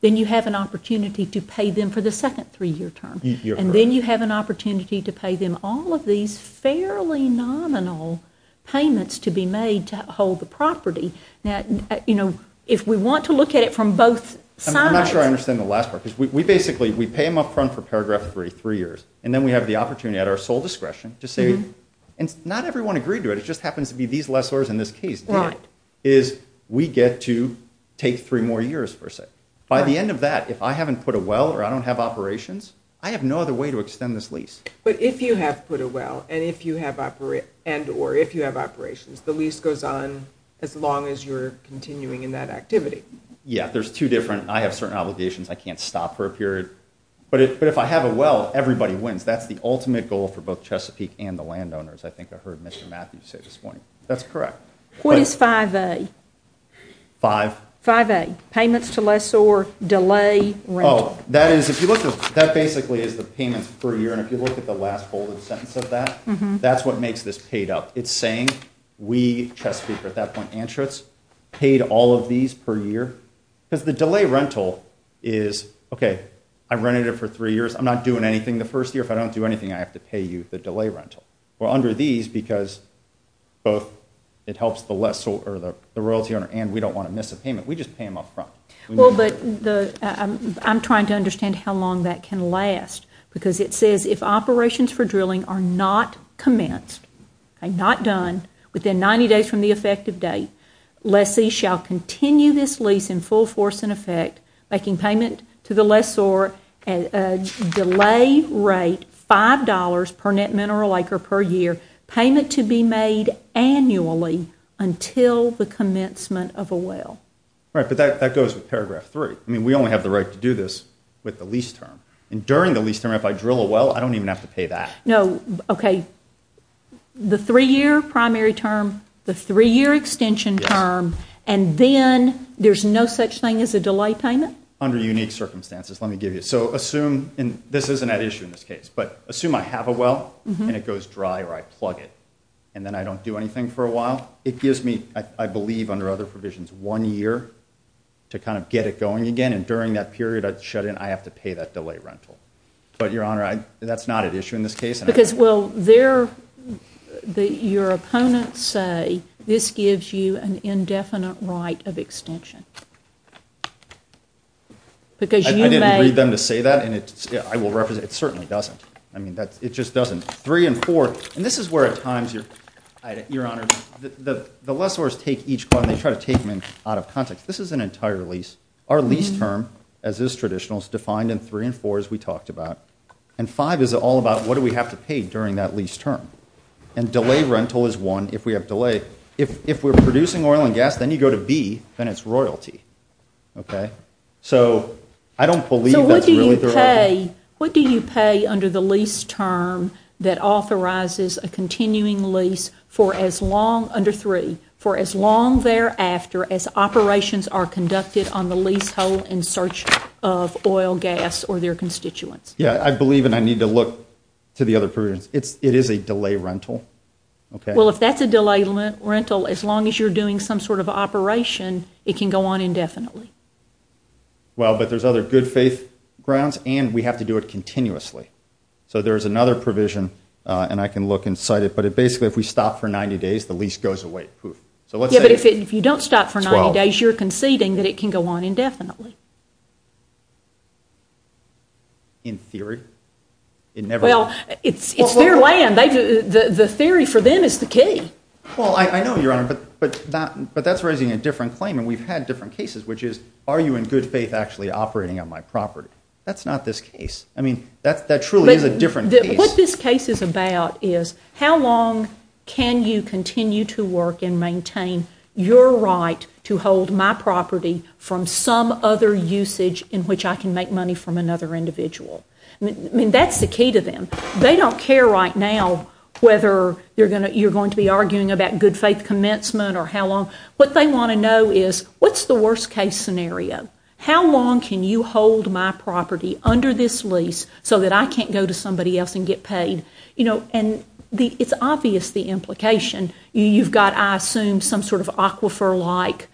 Then you have an opportunity to pay them for the second three-year term. And then you have an opportunity to pay them all of these fairly nominal payments to be made to hold the property. If we want to look at it from both sides... I'm not sure I understand the last part. We basically, we pay them up front for paragraph three, three years, and then we have the opportunity at our sole discretion to say, and not everyone agreed to it, it just happens to be these lessors in this case, is we get to take three more years, per se. By the end of that, if I haven't put a well or I don't have operations, I have no other way to extend this lease. But if you have put a well and if you have operations, the lease goes on as long as you're continuing in that activity. Yeah, there's two different... I have certain obligations I can't stop for a period. But if I have a well, everybody wins. That's the ultimate goal for both Chesapeake and the landowners, I think I heard Mr. Matthews say at this point. That's correct. What is 5A? 5? 5A, payments to lessor, delay, rent. That is, if you look at... That basically is the payments per year. And if you look at the last bolded sentence of that, that's what makes this paid up. It's saying we, Chesapeake at that point, Antrips, paid all of these per year. Because the delay rental is, okay, I've rented it for three years. I'm not doing anything the first year. If I don't do anything, I have to pay you the delay rental. Well, under these, because both it helps the lessor, or the royalty owner, and we don't want to miss a payment. We just pay them up front. Well, but I'm trying to understand how long that can last. Because it says if operations for drilling are not commenced, not done, within 90 days from the effective date, lessee shall continue this lease in full force and effect, making payment to the lessor at a delayed rate, $5 per net mineral acre per year, payment to be made annually until the commencement of a well. All right, but that goes with paragraph 3. I mean, we only have the right to do this with the lease term. And during the lease term, if I drill a well, I don't even have to pay that. No, okay, the 3-year primary term, the 3-year extension term, and then there's no such thing as a delay payment? Under unique circumstances, let me give you. So assume, and this isn't an issue in this case, but assume I have a well, and it goes dry, or I plug it, and then I don't do anything for a while. It gives me, I believe under other provisions, one year to kind of get it going again, and during that period I shut in, I have to pay that delay rental. But, Your Honor, that's not an issue in this case. Because, well, your opponents say this gives you an indefinite right of extension. I didn't agree with them to say that, and it certainly doesn't. I mean, it just doesn't. 3 and 4, and this is where at times, Your Honor, the lessors take each clause, and they try to take them out of context. This is an entire lease. Our lease term, as is traditional, is defined in 3 and 4, as we talked about. And 5 is all about what do we have to pay during that lease term. And delay rental is one, if we have delay. If we're producing oil and gas, then you go to B, and it's royalty. Okay? So I don't believe that's really the right thing. But what do you pay under the lease term that authorizes a continuing lease for as long, under 3, for as long thereafter as operations are conducted on the lease hold in search of oil, gas, or their constituents? Yeah, I believe, and I need to look to the other provisions. It is a delay rental. Well, if that's a delay rental, as long as you're doing some sort of operation, it can go on indefinitely. Well, but there's other good faith grounds, and we have to do it continuously. So there's another provision, and I can look inside it. But basically, if we stop for 90 days, the lease goes away. Yeah, but if you don't stop for 90 days, you're conceding that it can go on indefinitely. In theory. Well, it's their land. The theory for them is the key. Well, I know, Your Honor, but that's raising a different claim, and we've had different cases, which is, are you in good faith actually operating on my property? That's not this case. I mean, that truly is a different case. What this case is about is, how long can you continue to work and maintain your right to hold my property from some other usage in which I can make money from another individual? I mean, that's the key to them. They don't care right now whether you're going to be arguing about good faith commencement or how long. What they want to know is, what's the worst case scenario? How long can you hold my property under this lease so that I can't go to somebody else and get paid? And it's obvious the implication. You've got, I assume, some sort of aquifer-like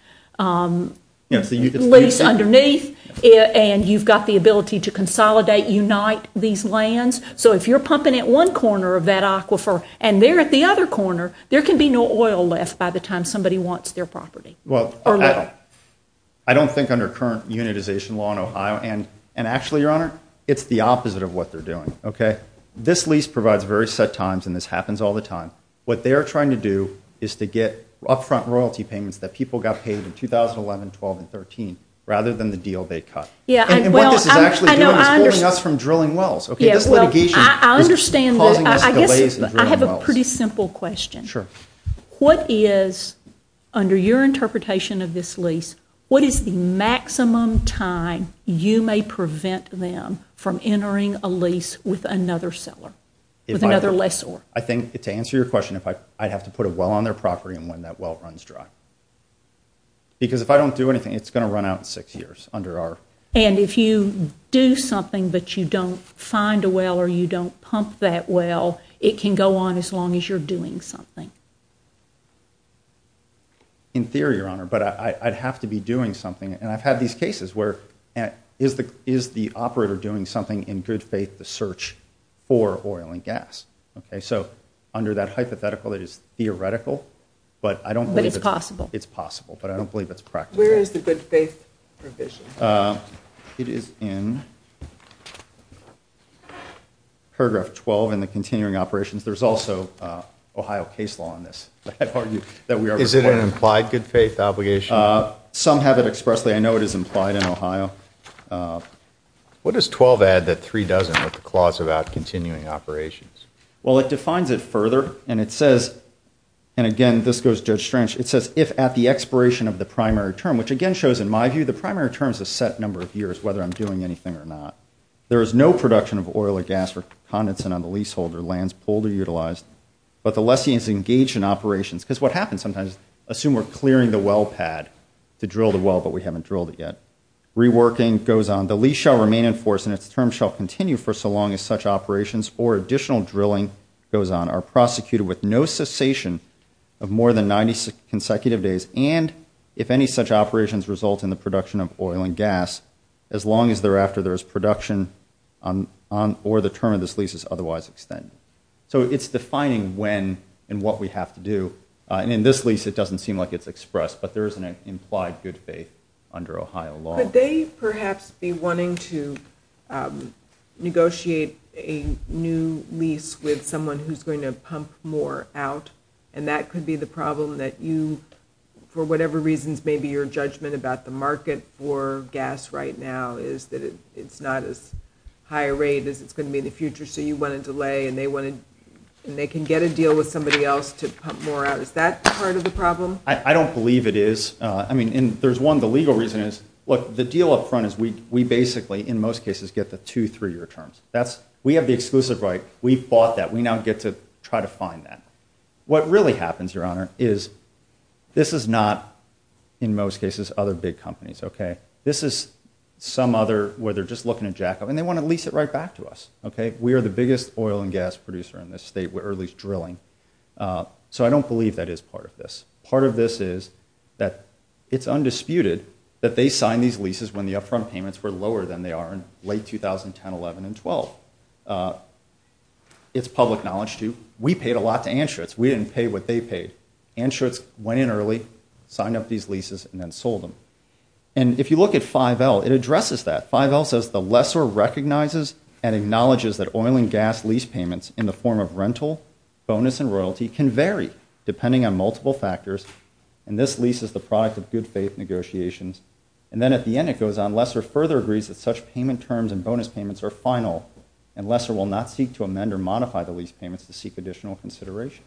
lease underneath, and you've got the ability to consolidate, unite these lands. So if you're pumping at one corner of that aquifer and they're at the other corner, there can be no oil left by the time somebody wants their property. Well, I don't think under current unitization law in Ohio, and actually, Your Honor, it's the opposite of what they're doing, okay? This lease provides very set times, and this happens all the time. What they're trying to do is to get upfront royalty payments that people got paid in 2011, 12, and 13 rather than the deal they cut. And what this is actually doing is holding us from drilling wells, okay? This litigation is calling us delays in drilling wells. I have a pretty simple question. What is, under your interpretation of this lease, what is the maximum time you may prevent them from entering a lease with another seller, with another lessor? I think to answer your question, I'd have to put a well on their property when that well runs dry. Because if I don't do anything, it's going to run out in six years under our... And if you do something that you don't find a well or you don't pump that well, it can go on as long as you're doing something. In theory, Your Honor, but I'd have to be doing something, is the operator doing something in good faith to search for oil and gas? Okay, so under that hypothetical, it is theoretical, but I don't believe... But it's possible. It's possible, but I don't believe it's practical. Where is the good faith provision? It is in paragraph 12 in the continuing operations. There's also Ohio case law on this. Is it an implied good faith obligation? Some have it expressly. I know it is implied in Ohio. What does 12 add to three dozen with the clause about continuing operations? Well, it defines it further, and it says... And again, this goes to a stretch. It says, if at the expiration of the primary term, which again shows, in my view, the primary term's a set number of years, whether I'm doing anything or not. There is no production of oil or gas or condensate on the leaseholder, lands pulled or utilized, but the lessee is engaged in operations. Because what happens sometimes, assume we're clearing the well pad to drill the well, but we haven't drilled it yet. Reworking goes on. The lease shall remain in force and its term shall continue for so long as such operations or additional drilling goes on are prosecuted with no cessation of more than 90 consecutive days, and if any such operations result in the production of oil and gas, as long as thereafter there is production or the term of this lease is otherwise extended. So it's defining when and what we have to do. And in this lease, it doesn't seem like it's expressed, but there is an implied good faith under Ohio law. Could they perhaps be wanting to negotiate a new lease with someone who's going to pump more out, and that could be the problem that you, for whatever reasons, maybe your judgment about the market for gas right now is that it's not as high a rate as it's going to be in the future, so you want a delay, and they can get a deal with somebody else to pump more out. Is that part of the problem? I don't believe it is. I mean, there's one. The legal reason is, look, the deal up front is we basically, in most cases, get the two three-year terms. We have the exclusive right. We fought that. We now get to try to find that. What really happens, Your Honor, is this is not, in most cases, other big companies, okay? This is some other where they're just looking to jack up, and they want to lease it right back to us, okay? We are the biggest oil and gas producer in this state. We're at least drilling. So I don't believe that is part of this. Part of this is that it's undisputed that they signed these leases when the up-front payments were lower than they are in late 2010, 11, and 12. It's public knowledge, too. We paid a lot to Anschutz. We didn't pay what they paid. Anschutz went in early, signed up these leases, and then sold them. And if you look at 5L, it addresses that. 5L says, that oil and gas lease payments in the form of rental, bonus, and royalty can vary depending on multiple factors, and this lease is the product of good faith negotiations. And then at the end it goes on, Lesser further agrees that such payment terms and bonus payments are final, and Lesser will not seek to amend or modify the lease payments to seek additional consideration.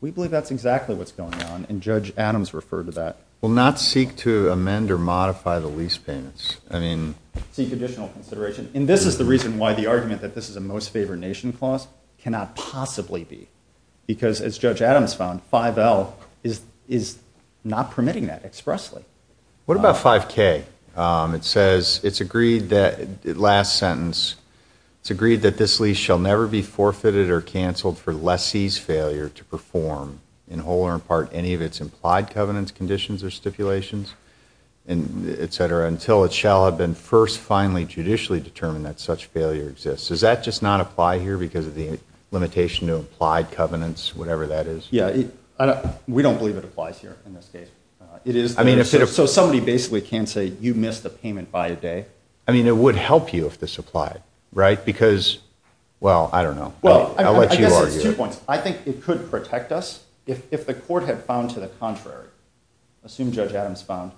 We believe that's exactly what's going on, and Judge Adams referred to that. Will not seek to amend or modify the lease payments. I mean... Seek additional consideration. And this is the reason why the argument that this is a most favored nation clause cannot possibly be, because as Judge Adams found, 5L is not permitting that expressly. What about 5K? It says, it's agreed that, last sentence, it's agreed that this lease shall never be forfeited or canceled for lessee's failure to perform, in whole or in part, any of its implied covenants, conditions, or stipulations, and et cetera, until it shall have been first, finally, judicially determined that such failure exists. Does that just not apply here because of the limitation of implied covenants, whatever that is? Yeah, we don't believe it applies here in this case. So somebody basically can say, you missed the payment by a day. I mean, it would help you if this applied, right? Because, well, I don't know. I'll let you argue. I think it could protect us if the court had found to the contrary. Assume Judge Adams found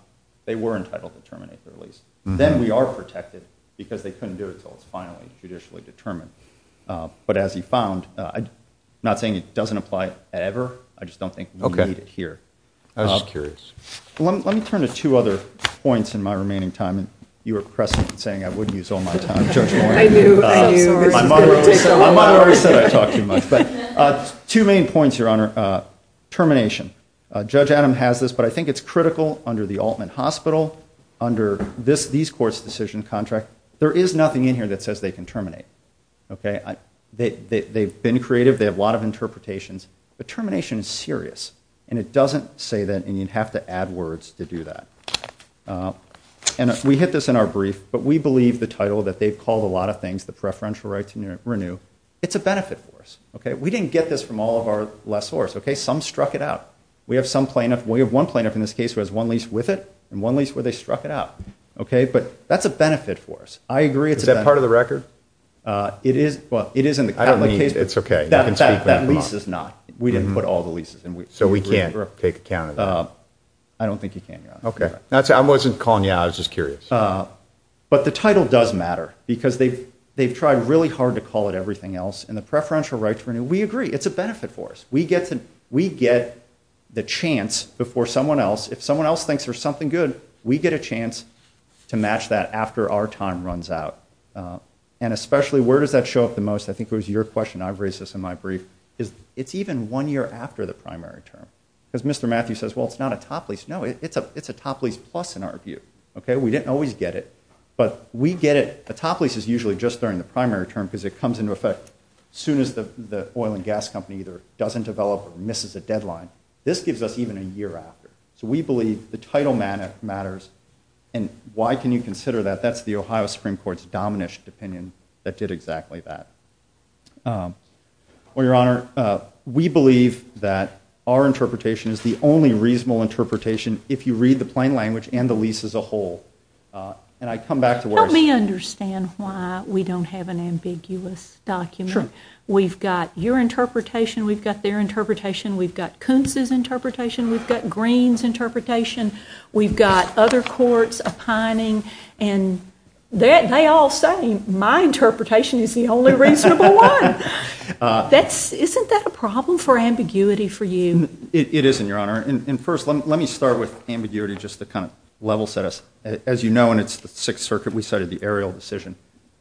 they were entitled to terminate the lease. Then we are protected because they couldn't do it until it's finally judicially determined. But as he found, I'm not saying it doesn't apply ever. I just don't think we need it here. I was curious. Let me turn to two other points in my remaining time. You were pressing and saying I wouldn't use all my time. Thank you, thank you. My mother said I talk too much. Two main points, Your Honor. Termination. Judge Adams has this, but I think it's critical under the Altman Hospital, under these courts' decision contract. There is nothing in here that says they can terminate. They've been creative. They have a lot of interpretations. But termination is serious, and it doesn't say that and you'd have to add words to do that. And we hit this in our brief, but we believe the title that they've called a lot of things, the preferential right to renew, it's a benefit for us. We didn't get this from all of our lessors. Some struck it out. We have one plaintiff in this case who has one lease with it and one lease where they struck it out. Okay? But that's a benefit for us. I agree it's a benefit. Is that part of the record? It is. Well, it is in the record. I don't need it. It's okay. That lease is not. We didn't put all the leases in. So we can't take account of that. I don't think you can, Your Honor. Okay. I wasn't calling you out. I was just curious. But the title does matter because they've tried really hard to call it everything else, and the preferential right to renew, we agree it's a benefit for us. We get the chance before someone else, if someone else thinks there's something good, we get a chance to match that after our time runs out. And especially, where does that show up the most? I think it was your question. I've raised this in my brief. It's even one year after the primary term because Mr. Matthews says, well, it's not a top lease. No, it's a top lease plus in our view. Okay? We didn't always get it, but we get it. A top lease is usually just during the primary term because it comes into effect as soon as the oil and gas company either doesn't develop or misses the deadline. This gives us even a year after. So we believe the title matters, and why can you consider that? That's the Ohio Supreme Court's dominant opinion that did exactly that. Well, Your Honor, we believe that our interpretation is the only reasonable interpretation if you read the plain language and the lease as a whole. And I come back to where... Let me understand why we don't have an ambiguous document. Sure. We've got your interpretation. We've got their interpretation. We've got Kuntz's interpretation. We've got Green's interpretation. We've got other courts opining, and they all say my interpretation is the only reasonable one. Isn't that a problem for ambiguity for you? It isn't, Your Honor. And first, let me start with ambiguity just to kind of level set us. As you know, in the Sixth Circuit, we cited the aerial decision.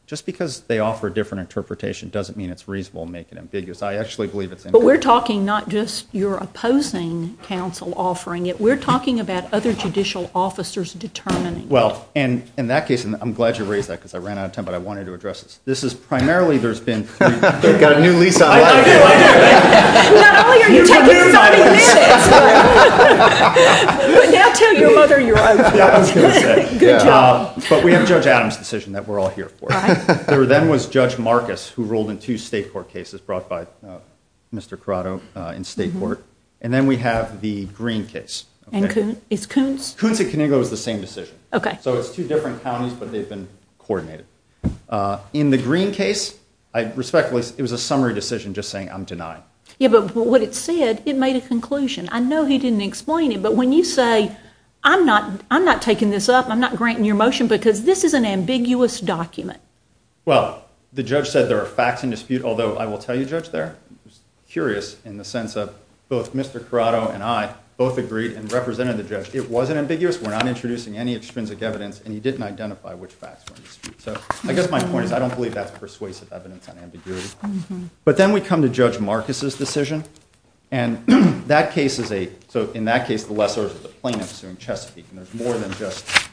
Just because they offer a different interpretation doesn't mean it's reasonable and make it ambiguous. I actually believe it's... But we're talking not just about your opposing counsel offering it. We're talking about other judicial officers determining it. Well, and in that case, and I'm glad you raised that because I ran out of time, but I wanted to address this. This is primarily there's been... You've got a new lease on it. I do. I do. Not only are you talking about a new lease on it, but now tell your mother you're on it. Okay. Good job. But we have Judge Adams' decision that we're all here for. Right. There then was Judge Marcus who ruled in two state court cases brought by Mr. Corrado in state court. And then we have the Green case. And it's Coons? Coons and Conego is the same decision. Okay. So it's two different counties, but they've been coordinated. In the Green case, I respectfully... It was a summary decision just saying I'm denying. Yeah, but what it said, it made a conclusion. I know he didn't explain it, but when you say, I'm not taking this up, I'm not granting your motion because this is an ambiguous document. Well, the judge said there are facts in dispute, although I will tell you, Judge, they're curious in the sense of both Mr. Corrado and I both agreed and represented the judge. It wasn't ambiguous. We're not introducing any extrinsic evidence, and he didn't identify which facts were in dispute. So I guess my point is I don't believe that persuasive evidence on ambiguity. But then we come to Judge Marcus' decision. And that case is a... So in that case, the lessor is a plaintiff in Chesapeake. And there's more than just...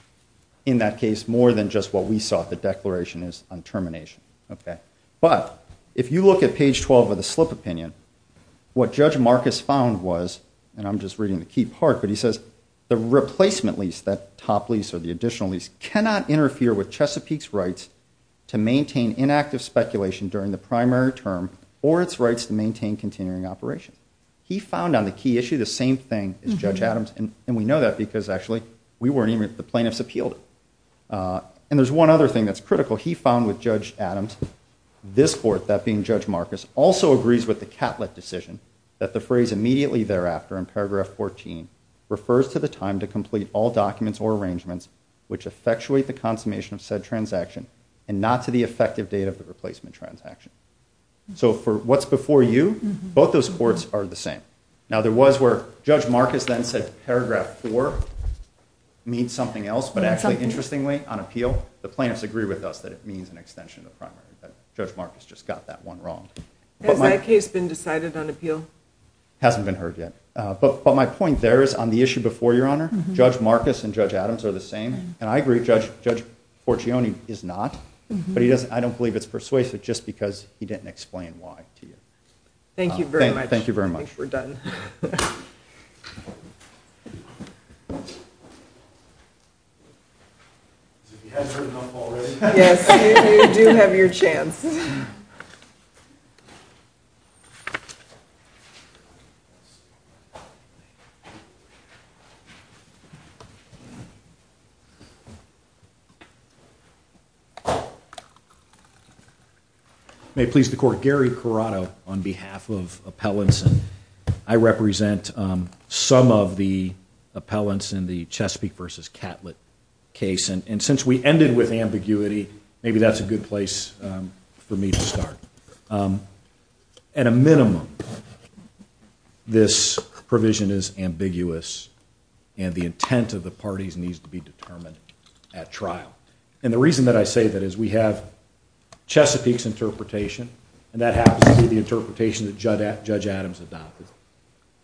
In that case, more than just what we saw the declaration is on termination. Okay. But if you look at page 12 of the slip opinion, what Judge Marcus found was, and I'm just reading the key part, but he says, the replacement lease, that top lease or the additional lease, cannot interfere with Chesapeake's rights to maintain inactive speculation during the primary term or its rights to maintain continuing operation. He found on the key issue the same thing as Judge Adams, and we know that because actually we weren't even... The plaintiffs appealed it. And there's one other thing that's critical. So he found with Judge Adams, this court, that being Judge Marcus, also agrees with the Catlett decision that the phrase immediately thereafter in paragraph 14 refers to the time to complete all documents or arrangements which effectuate the consummation of said transaction and not to the effective date of the replacement transaction. So for what's before you, both those courts are the same. Now, there was where Judge Marcus then said paragraph four means something else, but actually, interestingly, on appeal, the plaintiffs agree with us that it means an extension of the primary, but Judge Marcus just got that one wrong. Has my case been decided on appeal? Hasn't been heard yet. But my point there is on the issue before, Your Honor, Judge Marcus and Judge Adams are the same, and I agree Judge Portione is not, but I don't believe it's persuasive just because he didn't explain why to you. Thank you very much. Thank you very much. We're done. Thank you. May it please the Court, I'm Gary Corrado on behalf of Appellants, and I represent some of the appellants in the Chesapeake v. Catlett case, and since we ended with ambiguity, maybe that's a good place for me to start. At a minimum, this provision is ambiguous, and the intent of the parties needs to be determined at trial. And the reason that I say that is we have Chesapeake's interpretation, and that happens to be the interpretation that Judge Adams adopted.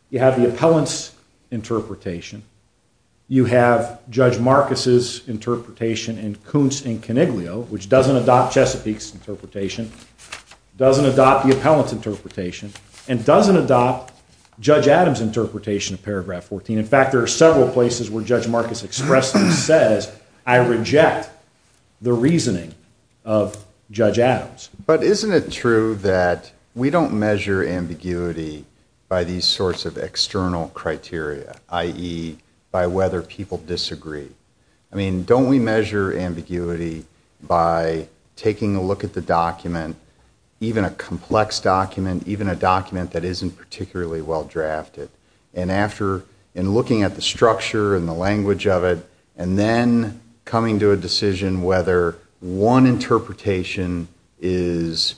You have the appellant's interpretation. You have Judge Marcus's interpretation in Coons v. Coniglio, which doesn't adopt Chesapeake's interpretation, doesn't adopt the appellant's interpretation, and doesn't adopt Judge Adams' interpretation of paragraph 14. In fact, there are several places where Judge Marcus expressed and said, I reject the reasoning of Judge Adams. But isn't it true that we don't measure ambiguity by these sorts of external criteria, i.e., by whether people disagree? I mean, don't we measure ambiguity by taking a look at the document, even a complex document, even a document that isn't particularly well-drafted, and looking at the structure and the language of it, and then coming to a decision whether one interpretation is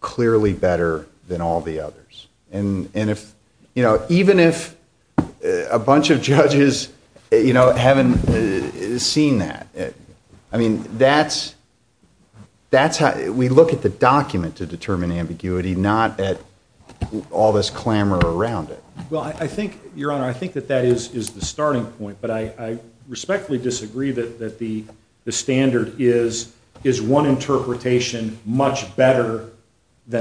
clearly better than all the others? And even if a bunch of judges haven't seen that, I mean, we look at the document to determine ambiguity, not at all this clamor around it. Well, Your Honor, I think that that is the starting point, but I respectfully disagree that the standard is, is one interpretation much better than the other.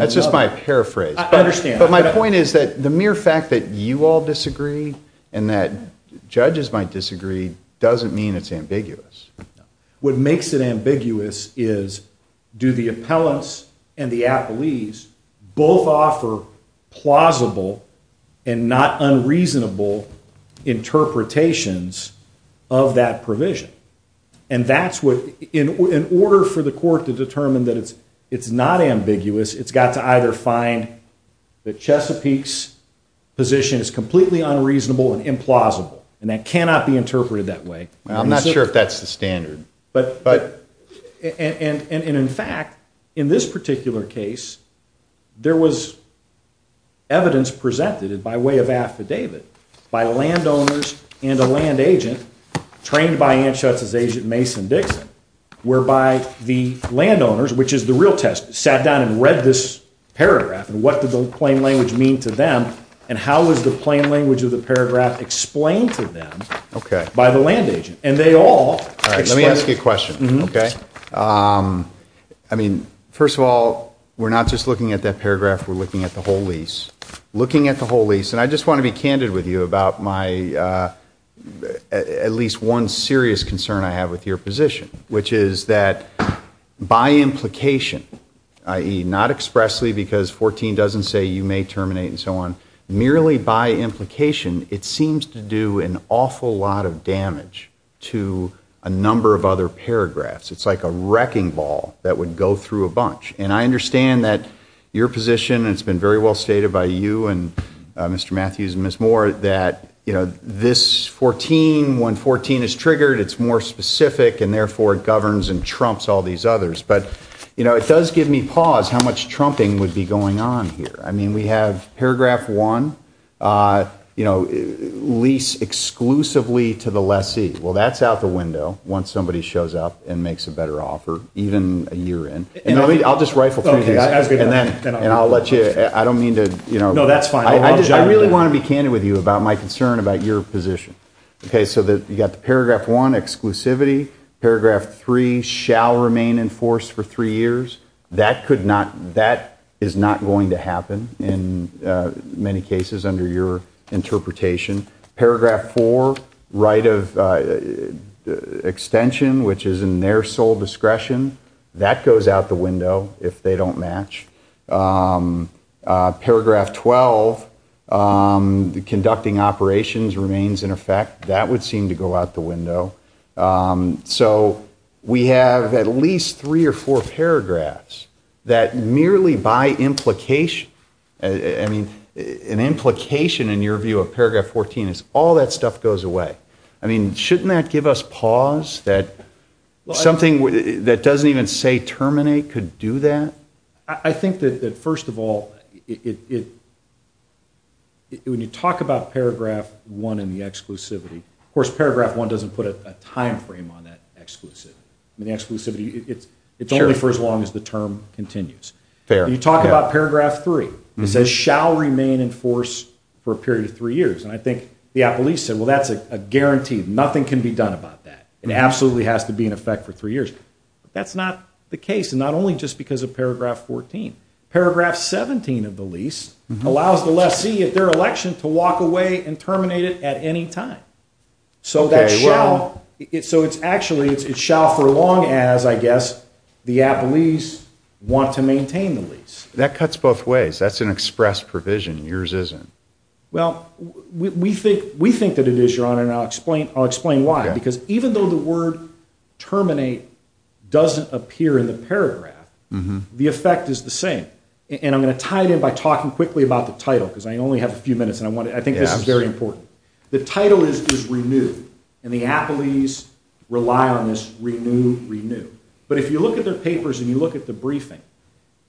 That's just my paraphrase. I understand. But my point is that the mere fact that you all disagree and that judges might disagree doesn't mean it's ambiguous. What makes it ambiguous is, do the appellants and the appellees both offer plausible and not unreasonable interpretations of that provision? And that's what, in order for the court to determine that it's not ambiguous, it's got to either find that Chesapeake's position is completely unreasonable and implausible, and that cannot be interpreted that way. I'm not sure if that's the standard. But, and in fact, in this particular case, there was evidence presented by way of after David by landowners and a land agent trained by NHS's agent, Mason Dixon, whereby the landowners, which is the real test, sat down and read this paragraph and what did the plain language mean to them, and how was the plain language of the paragraph explained to them by the land agent? And they all... All right, let me ask you a question. Okay. I mean, first of all, we're not just looking at that paragraph, we're looking at the whole lease. Looking at the whole lease, and I just want to be candid with you about my... at least one serious concern I have with your position, which is that by implication, i.e. not expressly because 14 doesn't say you may terminate and so on, merely by implication, it seems to do an awful lot of damage to a number of other paragraphs. It's like a wrecking ball that would go through a bunch. And I understand that your position, and it's been very well stated by you and Mr. Matthews and Ms. Moore, that, you know, this 14, when 14 is triggered, it's more specific, and therefore it governs and trumps all these others. But, you know, it does give me pause how much trumping would be going on here. I mean, we have paragraph 1, you know, lease exclusively to the lessee. Well, that's out the window once somebody shows up and makes a better offer, even a year in. And I'll just write the page back, and I'll let you... I don't mean to, you know... No, that's fine. I really want to be candid with you about my concern about your position. Okay, so you got paragraph 1, exclusivity. Paragraph 3, shall remain enforced for 3 years. That is not going to happen in many cases under your interpretation. Paragraph 4, right of extension, which is in their sole discretion. That goes out the window if they don't match. Paragraph 12, conducting operations, remains in effect. That would seem to go out the window. So we have at least 3 or 4 paragraphs that merely by implication... I mean, an implication in your view of paragraph 14 is all that stuff goes away. I mean, shouldn't that give us pause that something that doesn't even say terminate could do that? I think that, first of all, when you talk about paragraph 1 and the exclusivity, of course, paragraph 1 doesn't put a time frame on that exclusivity. The exclusivity, it's only for as long as the term continues. When you talk about paragraph 3, it says, shall remain enforced for a period of 3 years. And I think the at-least said, well, that's a guarantee. Nothing can be done about that. It absolutely has to be in effect for 3 years. But that's not the case, and not only just because of paragraph 14. Paragraph 17 of the lease allows the lessee at their election to walk away and terminate it at any time. So that shall... So it's actually, it shall for as long as, I guess, the at-least want to maintain the lease. That cuts both ways. That's an express provision. Yours isn't. Well, we think that it is, Your Honor, and I'll explain why. Because even though the word terminate doesn't appear in the paragraph, the effect is the same. And I'm going to tie it in by talking quickly about the title, because I only have a few minutes, and I think this is very important. The title is Renew, and the at-least rely on this Renew, Renew. But if you look at their papers and you look at the briefing,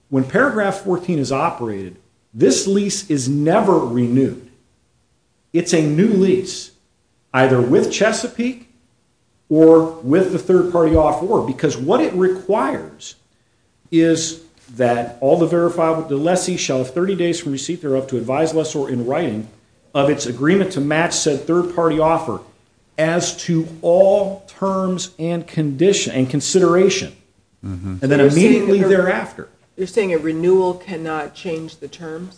when paragraph 14 is operated, this lease is never renewed. It's a new lease, either with Chesapeake or with the third-party offer, because what it requires is that all the verifiable, the lessee shall have 30 days from receipt thereof to advise lessor in writing of its agreement to match said third-party offer as to all terms and condition, and consideration, and then immediately thereafter. You're saying a renewal cannot change the term?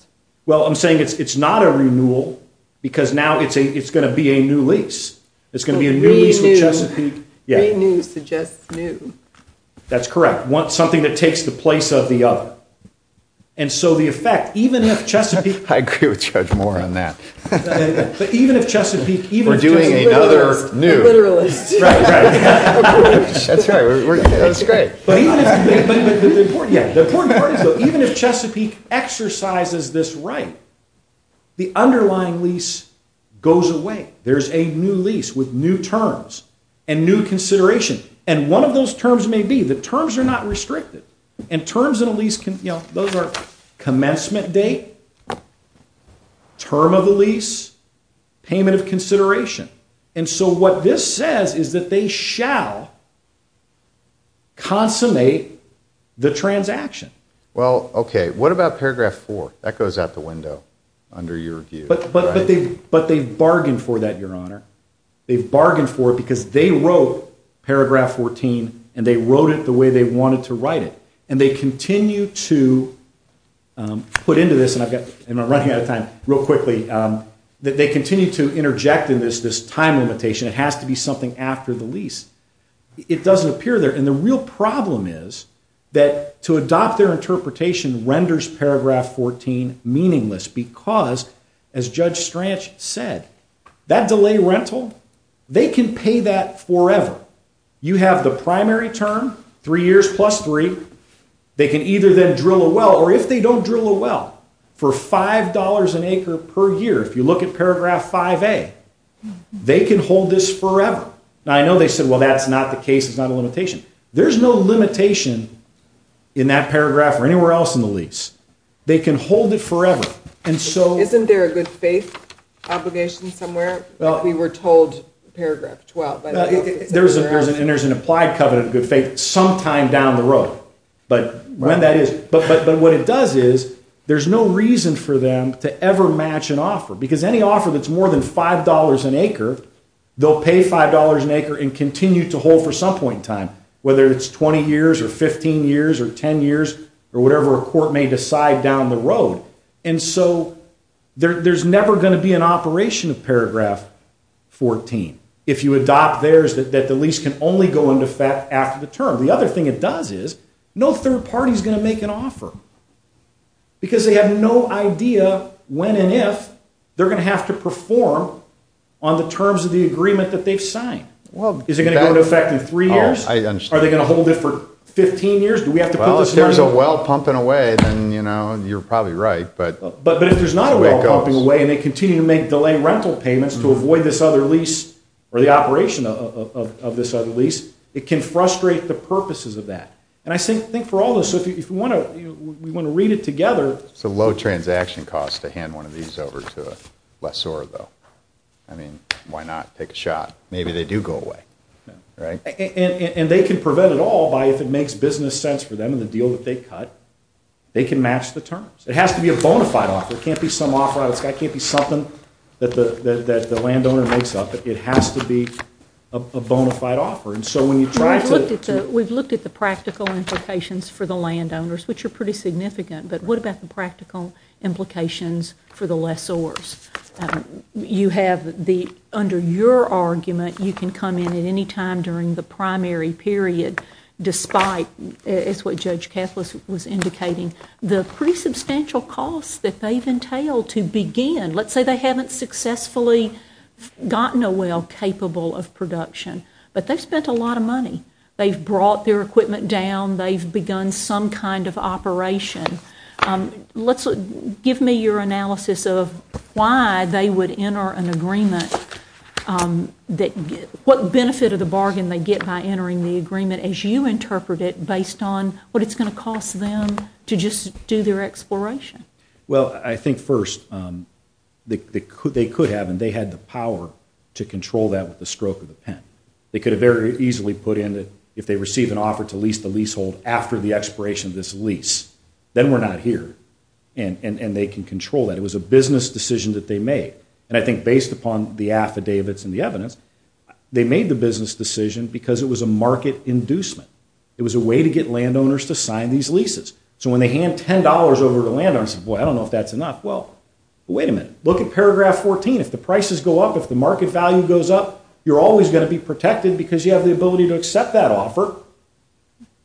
Well, I'm saying it's not a renewal, because now it's going to be a new lease. It's going to be a new lease to Chesapeake. A new to just new. That's correct. Something that takes the place of the other. And so the effect, even if Chesapeake... I could judge more on that. But even if Chesapeake... We're doing another new. Right, right. That's great. But even if Chesapeake exercises this right, the underlying lease goes away. There's a new lease with new terms and new considerations. And one of those terms may be... The terms are not restricted. And terms of a lease... Those are commencement date, term of the lease, payment of consideration. And so what this says is that they shall consummate the transaction. Well, okay. What about paragraph four? That goes out the window under your view. But they bargained for that, Your Honor. They bargained for it, because they wrote paragraph 14, and they wrote it the way they wanted to write it. And they continue to put into this... And I'm running out of time. Real quickly. They continue to interject in this, this time limitation. It has to be something after the lease. It doesn't appear there. And the real problem is that to adopt their interpretation renders paragraph 14 meaningless, because, as Judge Strach said, that delay rental, they can pay that forever. You have the primary term, three years plus three. They can either then drill a well, or if they don't drill a well, for $5 an acre per year, if you look at paragraph 5A, they can hold this forever. Now, I know they said, well, that's not the case. It's not a limitation. There's no limitation in that paragraph or anywhere else in the lease. They can hold it forever. Isn't there a good faith obligation somewhere? We were told paragraph 12. There's an applied covenant of good faith sometime down the road. But what it does is, there's no reason for them to ever match an offer, they'll pay $5 an acre and continue to hold for some point in time, whether it's 20 years or 15 years or 10 years or whatever a court may decide down the road. And so there's never going to be an operation of paragraph 14. If you adopt theirs, the lease can only go into effect after the term. The other thing it does is, no third party's going to make an offer, because they have no idea when and if they're going to have to perform on the terms of the agreement that they've signed. Is it going to go into effect in three years? I understand. Are they going to hold it for 15 years? If there's a well pumping away, then you're probably right. But if there's not a well pumping away and they continue to make delayed rental payments to avoid this other lease or the operation of this other lease, it can frustrate the purposes of that. And I think for all of us, if we want to read it together... It's a low transaction cost to hand one of these over to a lessor though. I mean, why not take a shot? Maybe they do go away, right? And they can prevent it all by if it makes business sense for them in the deal that they cut, they can match the terms. It has to be a bona fide offer. It can't be some offer out of sky. It can't be something that the landowner makes up. It has to be a bona fide offer. And so when you try to... We've looked at the practical implications for the landowners, which are pretty significant, but what about the practical implications for the lessors? You have the... Under your argument, you can come in at any time during the primary period, despite... It's what Judge Kessler was indicating. The pretty substantial costs that they've entailed to begin... Let's say they haven't successfully gotten a well capable of production, but they spent a lot of money. They've brought their equipment down. They've begun some kind of operation. Give me your analysis of why they would enter an agreement. What benefit of the bargain they get by entering the agreement as you interpret it based on what it's going to cost them to just do their exploration? Well, I think first, they could have, and they had the power to control that with the stroke of the pen. They could have very easily put in that if they receive an offer to lease the leasehold after the expiration of this lease, then we're not here. And they can control that. It was a business decision that they made. And I think based upon the affidavits and the evidence, they made the business decision because it was a market inducement. It was a way to get landowners to sign these leases. So when they hand $10 over to landowners, they say, boy, I don't know if that's enough. Well, wait a minute. Look at paragraph 14. If the prices go up, if the market value goes up, you're always going to be protected because you have the ability to accept that offer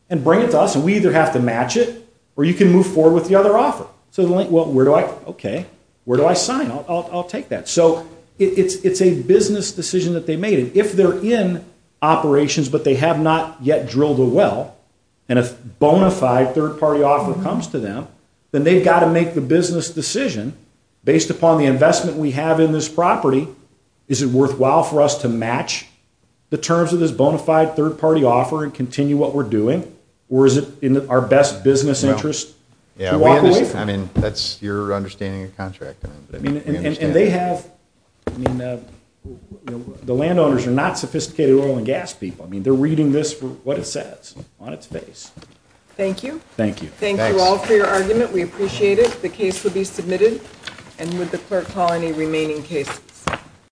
and bring it to us. So we either have to match it or you can move forward with the other offer. So where do I... Okay. Where do I sign? I'll take that. So it's a business decision that they made. If they're in operations, but they have not yet drilled a well and a bona fide third-party offer comes to them, then they've got to make the business decision based upon the investment we have in this property. Is it worthwhile for us to match the terms of this bona fide third-party offer and continue what we're doing? Or is it in our best business interest to walk away? Yeah, I mean, that's your understanding of contracting. And they have... I mean, the landowners are not sophisticated oil and gas people. I mean, they're reading this for what it says on its face. Thank you. Thank you. Thank you all for your argument. We appreciate it. The case will be submitted. And would the clerk call any remaining cases?